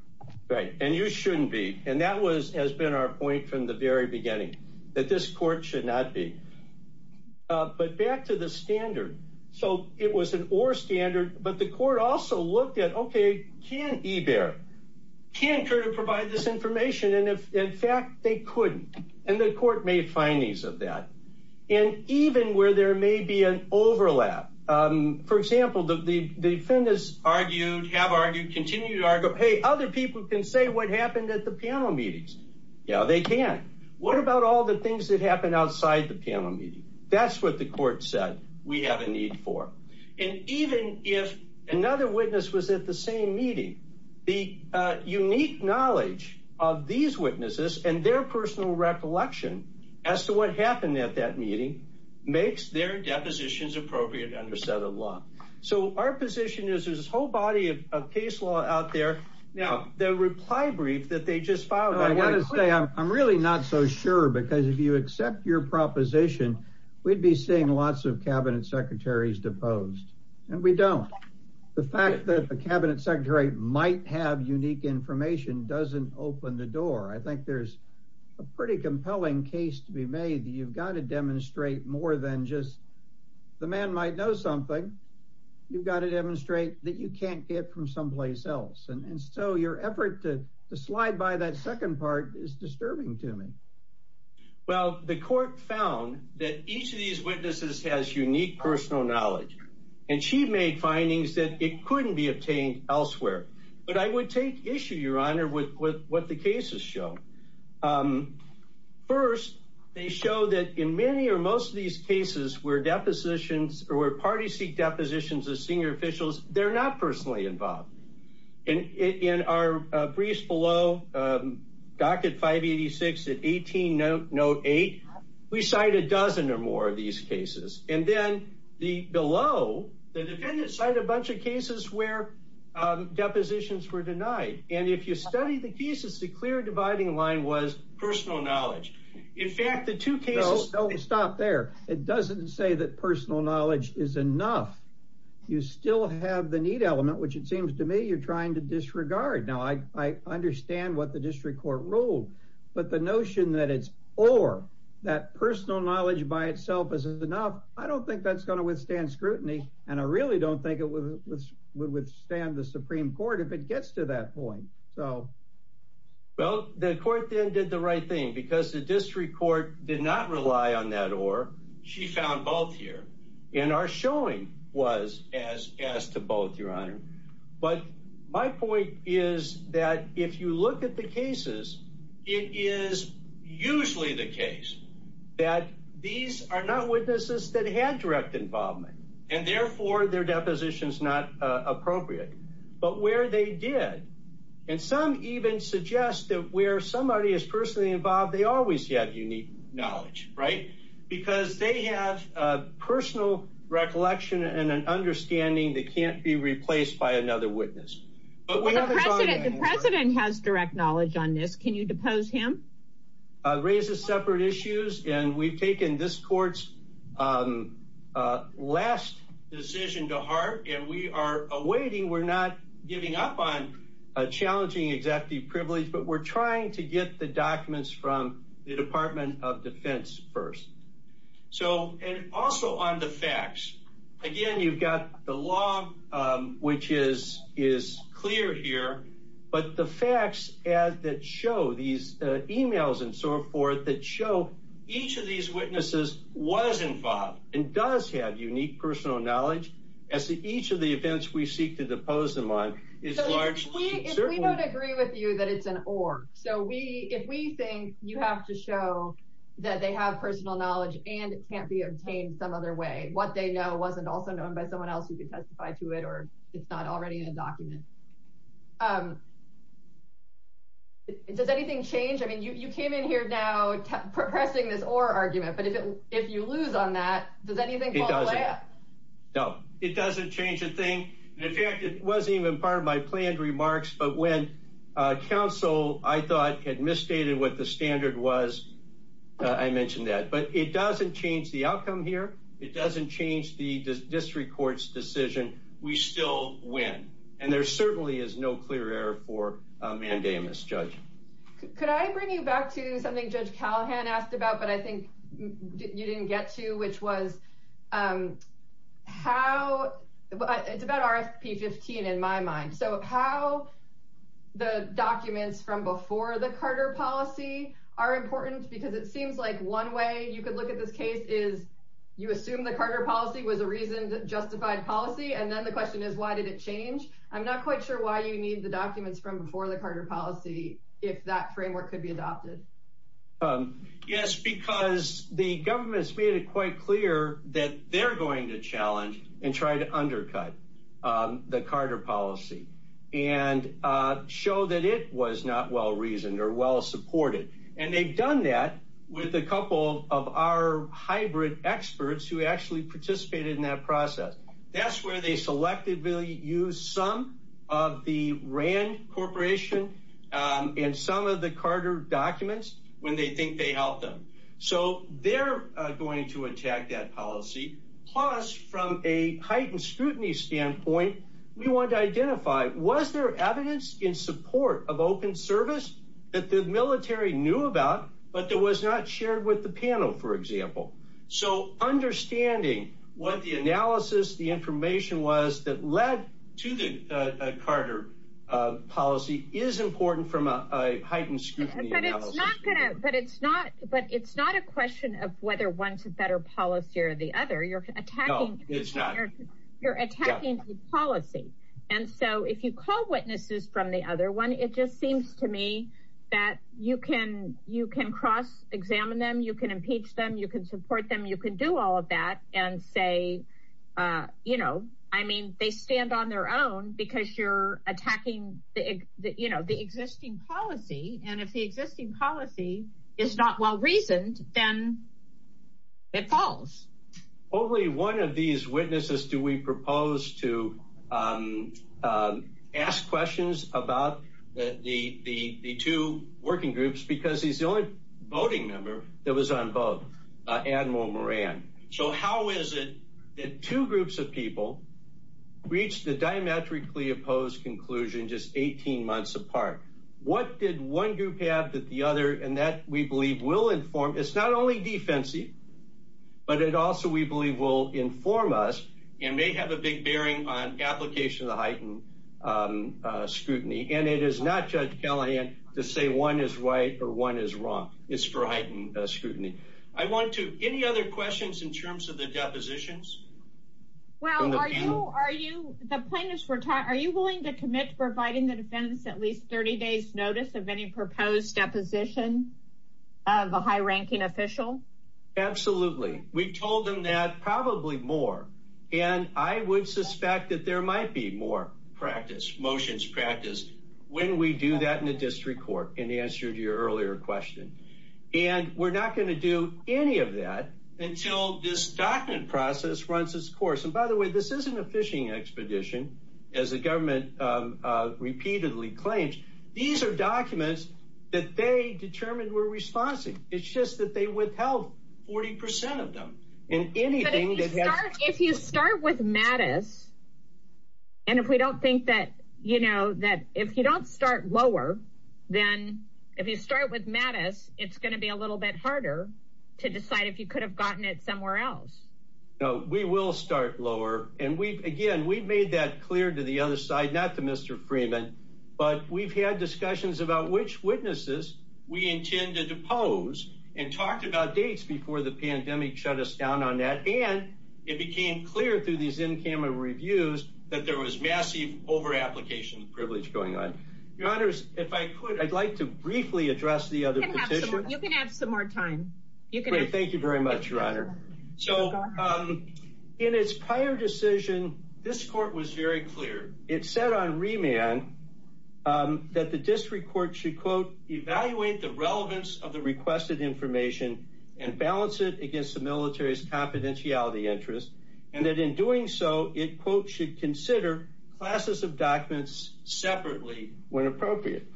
Right. And you shouldn't be. And that was, has been our point from the very beginning that this court should not be, but back to the standard. So it was an or standard, but the court also looked at, okay, can e-bear can occur to provide this information. And if in fact they couldn't, and the court made findings of that, and even where there may be an overlap, for example, the defendants argued, have argued, continue to argue, Hey, other people can say what happened at the panel meetings. Yeah, they can. What about all the things that happen outside the panel meeting? That's what the court said. We have a need for, and even if another witness was at the same meeting, the unique knowledge of these witnesses and their personal recollection as to what happened at that meeting makes their depositions appropriate under set of law. So our position is there's whole body of case law out there. Now the reply brief that they just filed. I want to say I'm really not so sure because if you accept your proposition, we'd be seeing lots of cabinet secretaries deposed and we don't. The fact that the cabinet secretary might have unique information doesn't open the door. I think there's a pretty compelling case to be made that you've got to demonstrate more than just the man might know something. You've got to demonstrate that you can't get from someplace else. And so your effort to slide by that second part is disturbing to me. Well, the court found that each of these witnesses has unique personal knowledge and she made findings that it couldn't be obtained elsewhere. But I would take issue, your Honor, with what the cases show. First, they show that in many or most of these cases where depositions or where parties seek depositions of senior officials, they're not personally involved. In our briefs below, docket 586 and 18 note 8, we cite a dozen or more of these cases. And then below, the defendant cited a bunch of cases where depositions were denied. And if you study the cases, the clear dividing line was personal knowledge. In fact, the two say that personal knowledge is enough. You still have the need element, which it seems to me, you're trying to disregard. Now, I understand what the district court rule, but the notion that it's or that personal knowledge by itself is enough. I don't think that's going to withstand scrutiny. And I really don't think it would withstand the Supreme Court if it gets to that point. So, well, the court then did the right thing because the district court did not rely on that she found both here in our showing was as as to both your Honor. But my point is that if you look at the cases, it is usually the case that these are not witnesses that had direct involvement and therefore their depositions not appropriate, but where they did. And some even suggest that where somebody is personally involved, they always have unique knowledge, right? Because they have a personal recollection and an understanding that can't be replaced by another witness. The president has direct knowledge on this. Can you depose him? Raises separate issues. And we've taken this court's last decision to heart. And we are a challenging executive privilege, but we're trying to get the documents from the Department of Defense first. So and also on the facts again, you've got the law, which is is clear here, but the facts as that show these emails and so forth that show each of these witnesses was involved and does have unique personal knowledge as to each of the events. We seek to depose them on is large. We don't agree with you that it's an org. So we if we think you have to show that they have personal knowledge and it can't be obtained some other way, what they know wasn't also known by someone else who can testify to it, or it's not already in a document. Does anything change? I mean, you came in here now pressing this or argument, but if you lose on that, does anything? It doesn't. No, it doesn't change a thing. In fact, it wasn't even part of my planned remarks. But when counsel I thought had misstated what the standard was, I mentioned that. But it doesn't change the outcome here. It doesn't change the district court's decision. We still win. And there certainly is no clear error for mandamus judge. Could I bring you back to something Judge Callahan asked about, but I think you didn't get to which was how it's about RFP 15 in my mind. So how the documents from before the Carter policy are important, because it seems like one way you could look at this case is you assume the Carter policy was a reason that justified policy. And then the question is, why did it change? I'm not quite sure why you need the documents from before the Carter policy, if that framework could be adopted. Yes, because the government's made it quite clear that they're going to challenge and try to undercut the Carter policy and show that it was not well reasoned or well supported. And they've done that with a couple of our hybrid experts who actually participated in that process. That's where they selected really use some of the Rand Corporation and some of the Carter documents when they think they helped them. So they're going to attack that policy. Plus, from a heightened scrutiny standpoint, we want to identify was there evidence in support of open service that the military knew about, but there was not with the panel, for example. So understanding what the analysis, the information was that led to the Carter policy is important from a heightened scrutiny. But it's not a question of whether one's a better policy or the other. You're attacking the policy. And so if you call witnesses from the other one, it just seems to me that you can cross examine them. You can impeach them. You can support them. You can do all of that and say, you know, I mean, they stand on their own because you're attacking the existing policy. And if the existing policy is not well reasoned, then it falls. Only one of these witnesses do we was on both Admiral Moran. So how is it that two groups of people reached the diametrically opposed conclusion just 18 months apart? What did one group have that the other and that we believe will inform? It's not only defensive, but it also, we believe, will inform us and may have a big bearing on application of the heightened scrutiny. And it is not, Judge Callahan, to say one is right or one is wrong. It's for heightened scrutiny. I want to any other questions in terms of the depositions? Well, are you are you the plaintiffs were taught? Are you willing to commit providing the defense at least 30 days notice of any proposed deposition of a high ranking official? Absolutely. We told them that probably more. And I would suspect that there might be more practice motions practice when we do that in the district court in the answer to your earlier question. And we're not going to do any of that until this document process runs its course. And by the way, this isn't a fishing expedition, as the government repeatedly claims. These are documents that they determined were responsive. It's just that they and if we don't think that, you know, that if you don't start lower, then if you start with Mattis, it's going to be a little bit harder to decide if you could have gotten it somewhere else. No, we will start lower. And we've again, we've made that clear to the other side, not to Mr. Freeman. But we've had discussions about which witnesses we intend to depose and talked about dates before the pandemic shut us down on that. And it became clear through these in camera reviews that there was massive over application privilege going on. Your honors, if I could, I'd like to briefly address the other. You can have some more time. You can. Thank you very much, your honor. So in its prior decision, this court was very clear. It said on remand that the district court should, quote, evaluate the relevance of the requested information and balance it against the military's confidentiality interest. And that in doing so, it, quote, should consider classes of documents separately when appropriate.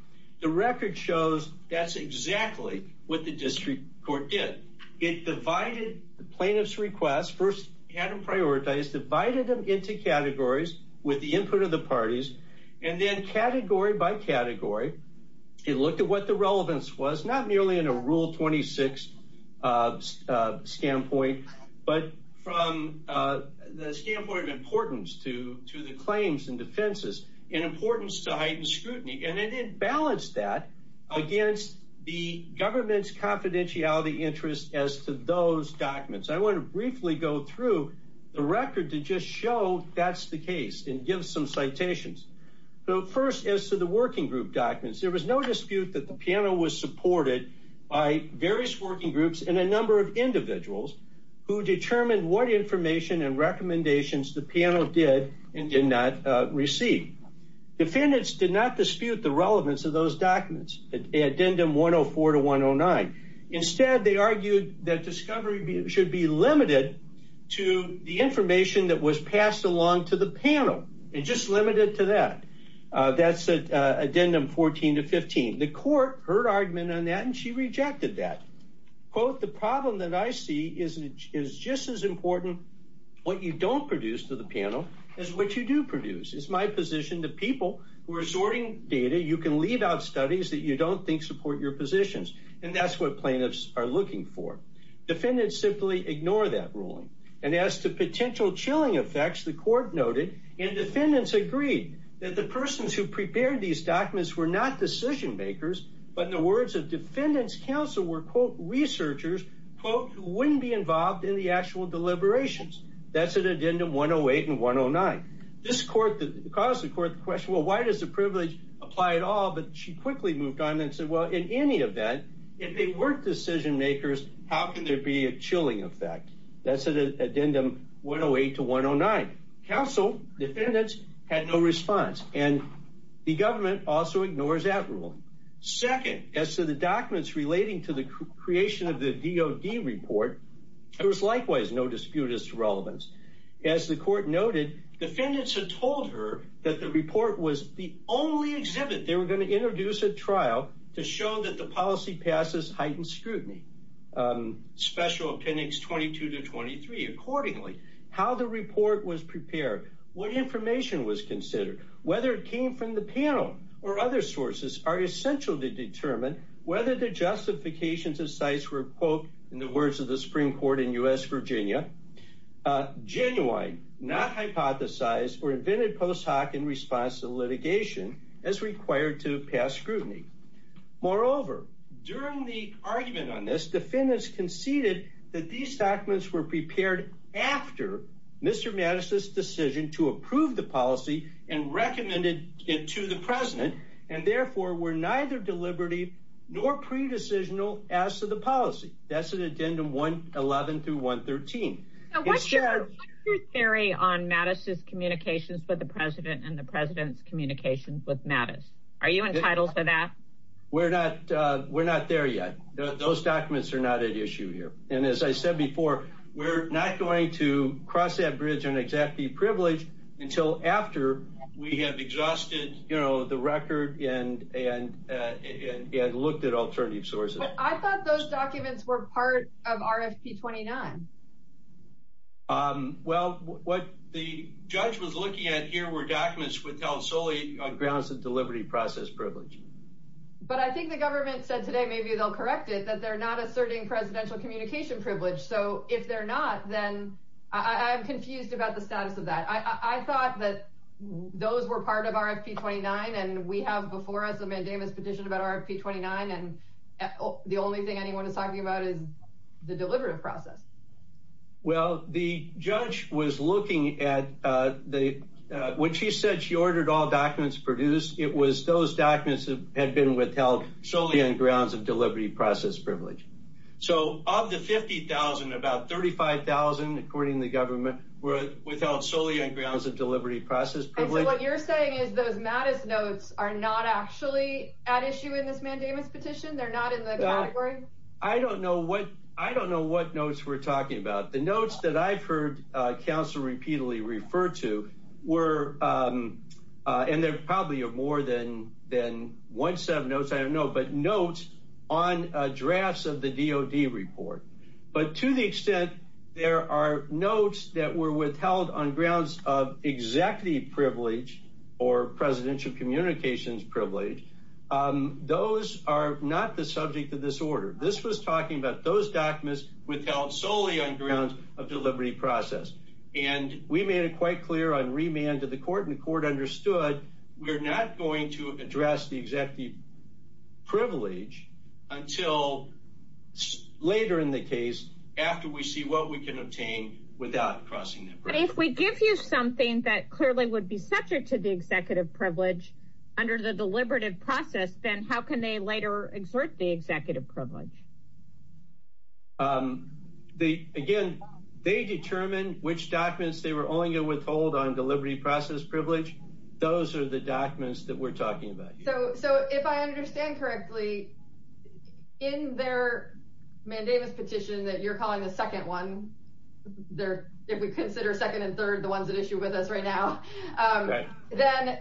The record shows that's exactly what the district court did. It divided the plaintiff's requests. First, it had them prioritized, divided them into categories with the input of the parties. And then category by category, it looked at what the relevance was, not nearly in a rule 26 of standpoint, but from the standpoint of importance to the claims and defenses in importance to heightened scrutiny. And it balanced that against the government's confidentiality interest as to those documents. I want to briefly go through the record to just show that's the case and give some citations. So first, as to the working group documents, there was no dispute that the panel was supported by various working groups and a number of individuals who determined what information and recommendations the panel did and did not receive. Defendants did not dispute the relevance of those documents, addendum 104 to 109. Instead, they argued that discovery should be limited to the information that was passed along to the panel, and just limited to that. That's addendum 14 to 15. The court heard argument on that, and she rejected that. The problem that I see is just as important what you don't produce to the panel as what you do produce. It's my position that people who are sorting data, you can leave out studies that you don't think support your positions. And that's what plaintiffs are looking for. Defendants simply ignore that ruling. And as to potential chilling effects, the court noted, and defendants agreed, that the persons who prepared these documents were not decision-makers, but in the words of defendants, counsel were, quote, researchers, quote, who wouldn't be involved in the actual deliberations. That's at addendum 108 and 109. This court, caused the court to question, well, why does the privilege apply at all? But she quickly moved on and said, well, in any event, if they weren't decision-makers, how can there be a chilling effect? That's at addendum 108 to 109. Counsel, defendants, had no response. And the government also ignores that ruling. Second, as to the documents relating to the creation of the DOD report, there was likewise no disputed relevance. As the court noted, defendants had told her that the report was the only exhibit they were going to introduce at trial to show that the policy passes heightened scrutiny. Special Appendix 22 to 23, accordingly, how the report was prepared, what information was considered, whether it came from the panel or other sources are essential to determine whether the justifications of sites were, quote, in the words of the Supreme Court in U.S. Virginia, genuine, not hypothesized, or invented post hoc in response to litigation as required to pass scrutiny. Moreover, during the argument on this, defendants conceded that these documents were prepared after Mr. Mattis' decision to approve the policy and recommended it to the president, and therefore were neither deliberative nor pre-decisional as to the policy. That's at addendum 111 through 113. What's your theory on Mattis' communications with the with Mattis? Are you entitled for that? We're not, we're not there yet. Those documents are not at issue here, and as I said before, we're not going to cross that bridge and exact the privilege until after we have exhausted, you know, the record and looked at alternative sources. I thought those documents were part of RFP 29. Well, what the judge was looking at here were deliberative process privilege. But I think the government said today, maybe they'll correct it, that they're not asserting presidential communication privilege. So if they're not, then I'm confused about the status of that. I thought that those were part of RFP 29, and we have before us a mandamus petition about RFP 29, and the only thing anyone is talking about is the deliberative process. Well, the judge was looking at the, when she said she ordered all documents produced, it was those documents that had been withheld solely on grounds of deliberative process privilege. So of the 50,000, about 35,000, according to the government, were withheld solely on grounds of deliberative process privilege. And so what you're saying is those Mattis notes are not actually at issue in this mandamus petition? They're not in the category? I don't know what, I don't know what notes we're talking about. The notes that I've heard counsel repeatedly refer to were, and there probably are more than one set of notes, I don't know, but notes on drafts of the DOD report. But to the extent there are notes that were withheld on grounds of executive privilege or presidential communications privilege, those are not the subject of this order. This was talking about those documents withheld solely on grounds of deliberative process. And we made it quite clear on remand to the court, and the court understood we're not going to address the executive privilege until later in the case after we see what we can obtain without crossing that bridge. But if we give you something that clearly would be subject to the executive privilege under the deliberative process, then how can they later exert the So if I understand correctly, in their mandamus petition that you're calling the second one, if we consider second and third the ones at issue with us right now, then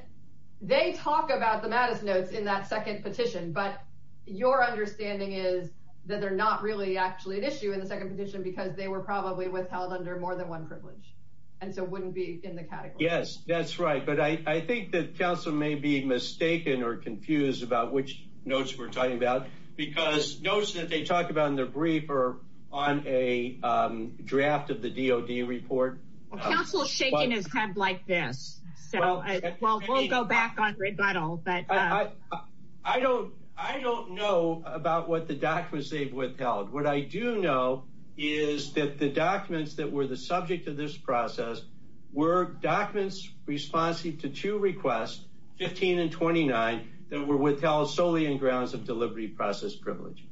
they talk about the Mattis notes in that second petition, but your understanding is that they're not really actually at issue in the second petition because they were probably under more than one privilege, and so wouldn't be in the category. Yes, that's right, but I think that counsel may be mistaken or confused about which notes we're talking about because notes that they talk about in their brief are on a draft of the DOD report. Counsel's shaking his head like this, so we'll go back on rebuttal. But I don't know about what the documents they've withheld. What I do know is that the documents that were the subject of this process were documents responsive to two requests, 15 and 29, that were withheld solely in grounds of delivery process privilege.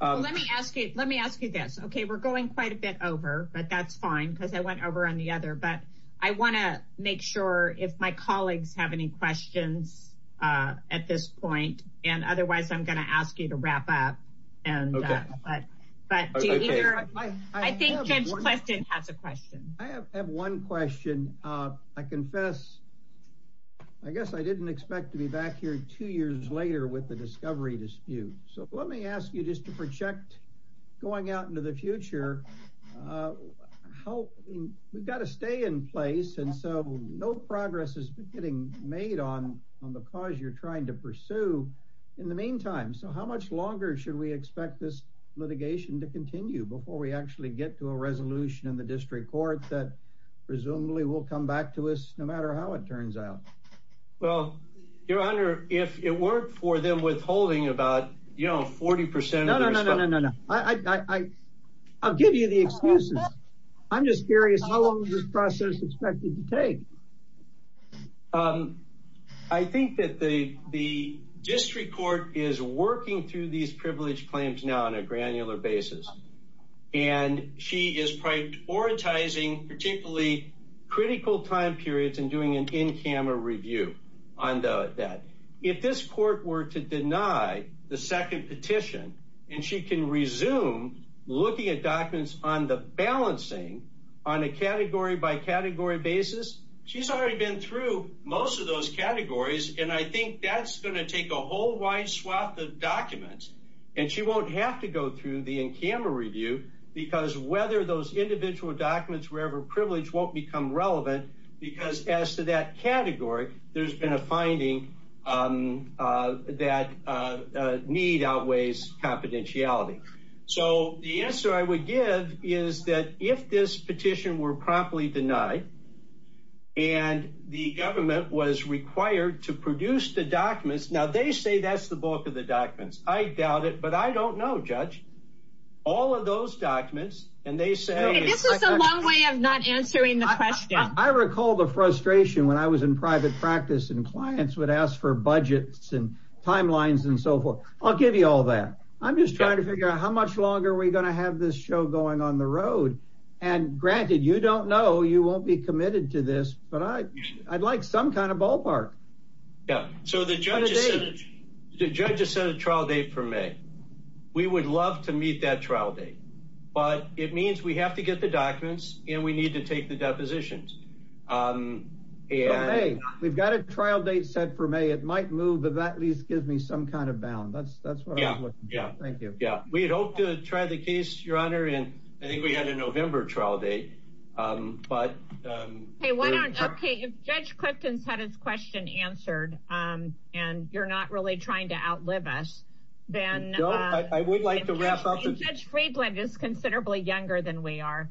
Let me ask you this. Okay, we're going quite a bit over, but that's fine because I went over on the other, but I want to make sure if my colleagues have any questions at this point, and otherwise I'm going to ask you to wrap up, but I think Judge Cleston has a question. I have one question. I confess, I guess I didn't expect to be back here two years later with the discovery dispute, so let me ask you just to project going out into the future. We've got to stay in place, and so no progress has been getting made on the cause you're trying to pursue in the meantime, so how much longer should we expect this litigation to continue before we actually get to a resolution in the district court that presumably will come back to us, no matter how it turns out? Well, your honor, if it weren't for them withholding about, you know, 40 percent. No, no, no, no, no, no. I'll give you the excuses. I'm just curious how long is this process expected to take? I think that the district court is working through these privileged claims now on a granular basis, and she is prioritizing particularly critical time periods and doing an in-camera review on that. If this court were to deny the second petition, and she can resume looking at documents on the balancing on a category by category basis, she's already been through most of those categories, and I think that's going to take a whole wide swath of documents, and she won't have to go through the in-camera review because whether those individual documents were ever privileged won't become relevant because as to that category, there's been a finding that need outweighs confidentiality. So the answer I would give is that if this petition were properly denied, and the government was required to produce the documents, now they say that's the bulk of the documents. I doubt it, but I don't know, judge. All of those documents, and they say this is a long way of not answering the question. I recall the frustration when I was in private practice and clients would ask for budgets and timelines and so forth. I'll give you all that. I'm just trying to figure out how much longer are we going to have this show going on the road, and granted, you don't know, you won't be committed to this, but I'd like some kind of ballpark. Yeah, so the judge has set a trial date for May. We would love to meet that trial date, but it means we have to get the documents, and we need to take the depositions. Hey, we've got a trial date set for May. It might move, but that at least gives me some kind of bound. That's what I'm looking for. Thank you. Yeah, we'd hope to try the case, your honor, and I think we had a November trial date. Okay, if Judge Clifton's had his question answered, and you're not really trying to outlive us, then I would like to wrap up. Judge Freedland is considerably younger than we are.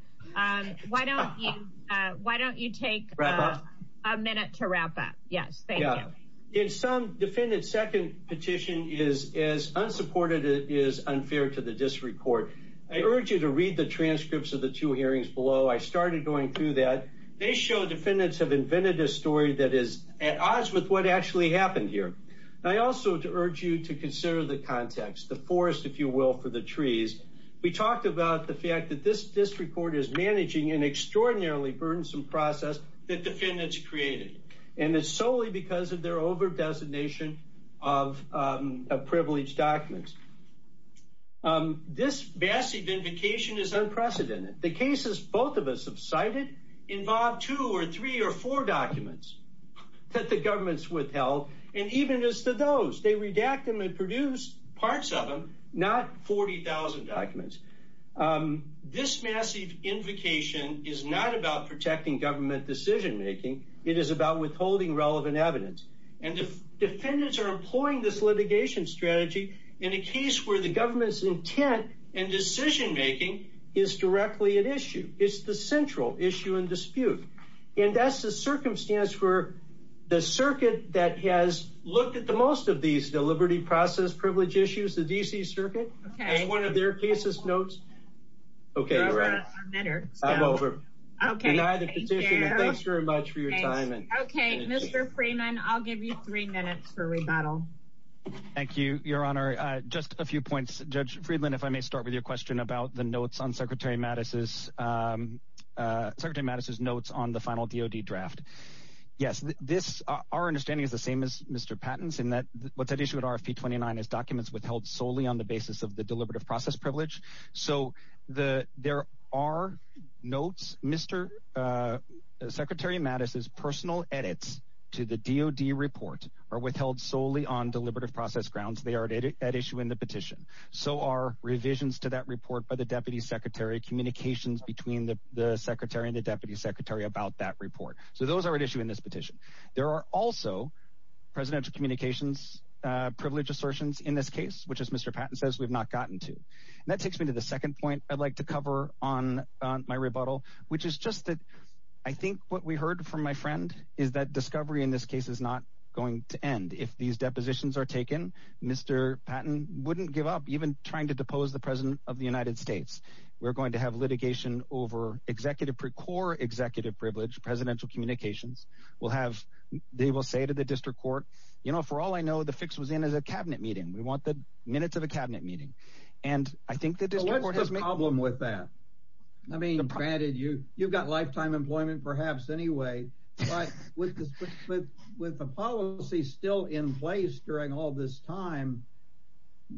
Why don't you take a minute to wrap up? Yes, thank you. In some, defendant's second petition is as unsupported as it is unfair to the district court. I urge you to read the transcripts of the two hearings below. I started going through that. They show defendants have invented a story that is at odds with what actually happened here. I also urge you to consider the context, the forest, if you will, for the trees. We talked about the fact that this district court is managing an extraordinarily burdensome process that defendants created, and it's solely because of their over-designation of privileged documents. This massive invocation is unprecedented. The cases both of us have cited involve two or three or four documents that the government's withheld, and even as to those, they redact them and produce parts of them, not 40,000 documents. This massive invocation is not about protecting government decision-making. It is about withholding relevant evidence, and defendants are employing this where the government's intent and decision-making is directly at issue. It's the central issue and dispute, and that's the circumstance where the circuit that has looked at the most of these deliberative process privilege issues, the D.C. Circuit, has one of their cases notes. Okay, you're right. I'm over. Deny the petition, and thanks very much for your time. Okay, Mr. Freeman, I'll give you three minutes for rebuttal. Thank you, Your Honor. Just a few points. Judge Friedland, if I may start with your question about the notes on Secretary Mattis's notes on the final D.O.D. draft. Yes, our understanding is the same as Mr. Patton's in that what's at issue with RFP 29 is documents withheld solely on the basis of the deliberative process privilege, so there are notes. Secretary Mattis's edits to the D.O.D. report are withheld solely on deliberative process grounds. They are at issue in the petition. So are revisions to that report by the Deputy Secretary, communications between the Secretary and the Deputy Secretary about that report. So those are at issue in this petition. There are also presidential communications privilege assertions in this case, which, as Mr. Patton says, we've not gotten to. That takes me to the second point I'd like to cover on my rebuttal, which is just that I think what we heard from my friend is that discovery in this case is not going to end. If these depositions are taken, Mr. Patton wouldn't give up even trying to depose the President of the United States. We're going to have litigation over executive, core executive privilege, presidential communications. We'll have, they will say to the district court, you know, for all I know, the fix was in as a cabinet meeting. We want the minutes of a cabinet meeting. And I think that there's a problem with that. I mean, granted, you you've got lifetime employment, perhaps anyway. But with this, with the policy still in place during all this time,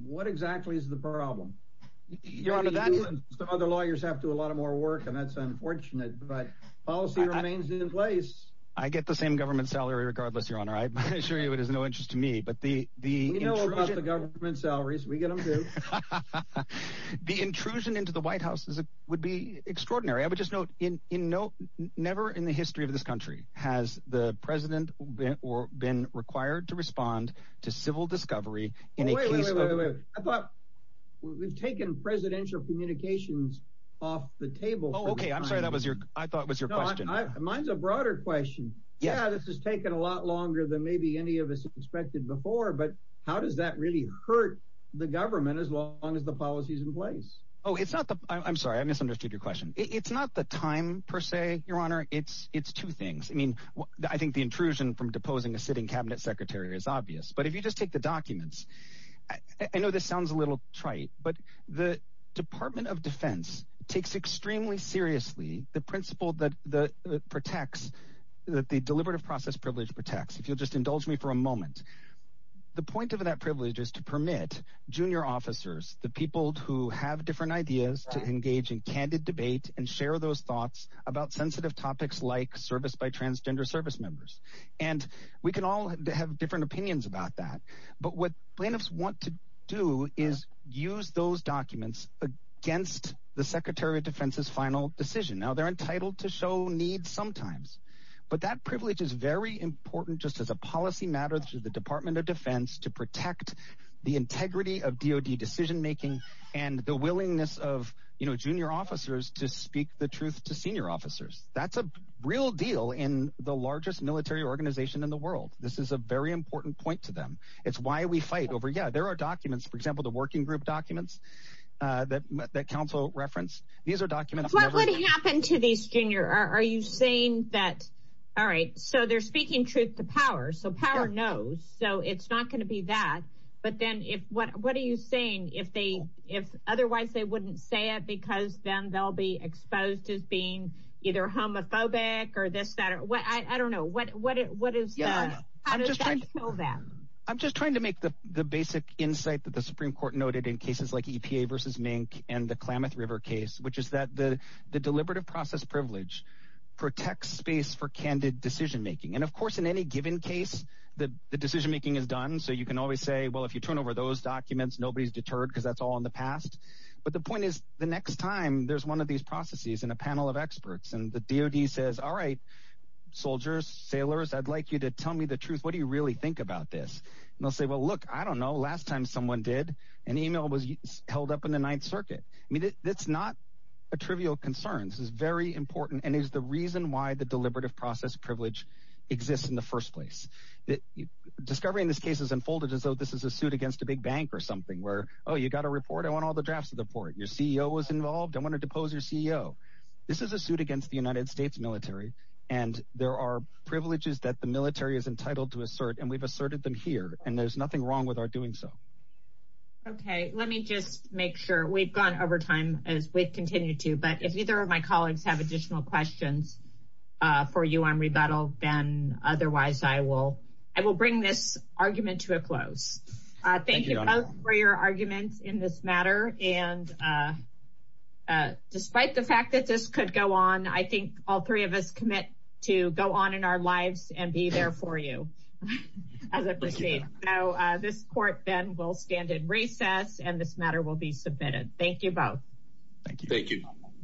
what exactly is the problem? Your Honor, that other lawyers have to a lot of more work, and that's unfortunate. But policy remains in place. I get the same government salary regardless, Your Honor. I assure you, it is no interest to me. But the the government salaries we get from the intrusion into the White House is it would be extraordinary. I would just note in in no never in the history of this country has the President been or been required to respond to civil discovery in a case. I thought we've taken presidential communications off the table. Okay, I'm sorry. That was your I thought was your question. Mine's a broader question. Yeah, this has taken a lot longer than maybe any of us expected before. But how does that really hurt the government as long as the policy is in place? Oh, it's not. I'm sorry. I misunderstood your question. It's not the time per se, Your Honor. It's it's two things. I mean, I think the intrusion from deposing a sitting cabinet secretary is obvious. But if you just take the documents, I know this sounds a little trite, but the Department of Defense takes extremely seriously the principle that the protects that the deliberative process privilege protects. If you'll just indulge me for a moment. The point of that privilege is to permit junior officers, the people who have different ideas to engage in candid debate and share those thoughts about sensitive topics like service by transgender service members. And we can all have different opinions about that. But what plaintiffs want to do is use those documents against the Secretary of Defense's final decision. Now, they're entitled to show sometimes. But that privilege is very important just as a policy matter through the Department of Defense to protect the integrity of DOD decision making and the willingness of junior officers to speak the truth to senior officers. That's a real deal in the largest military organization in the world. This is a very important point to them. It's why we fight over. Yeah, there are documents, for example, the working group documents that counsel reference. These are documents. What would happen to these junior? Are you saying that? All right, so they're speaking truth to power. So power knows. So it's not going to be that. But then if what what are you saying? If they if otherwise they wouldn't say it because then they'll be exposed as being either homophobic or this, that or what? I don't know what what what is that? I'm just trying to make the the basic insight that the Supreme Court noted in cases like EPA versus Mink and the Klamath River case, which is that the the deliberative process privilege protects space for candid decision making. And of course, in any given case, the decision making is done. So you can always say, well, if you turn over those documents, nobody's deterred because that's all in the past. But the point is, the next time there's one of these processes in a panel of experts and the DOD says, all right, soldiers, sailors, I'd like you to tell me the truth. What do you really think about this? And I'll say, well, look, I don't know. Last time someone did, an email was held up in the Ninth Circuit. I mean, that's not a trivial concern. This is very important and is the reason why the deliberative process privilege exists in the first place. That discovery in this case is unfolded as though this is a suit against a big bank or something where, oh, you got a report. I want all the drafts of the report. Your CEO was involved. I want to depose your CEO. This is a suit against the United States military. And there are privileges that the military is entitled to assert. And we've asserted them here. And there's nothing wrong with our doing so. OK, let me just make sure we've gone over time as we continue to. But if either of my colleagues have additional questions for you on rebuttal, then otherwise I will I will bring this argument to a close. Thank you for your arguments in this matter. And despite the fact that this could go on, I think all three of us commit to go on in lives and be there for you as I proceed. Now, this court then will stand in recess and this matter will be submitted. Thank you both. Thank you. Thank you.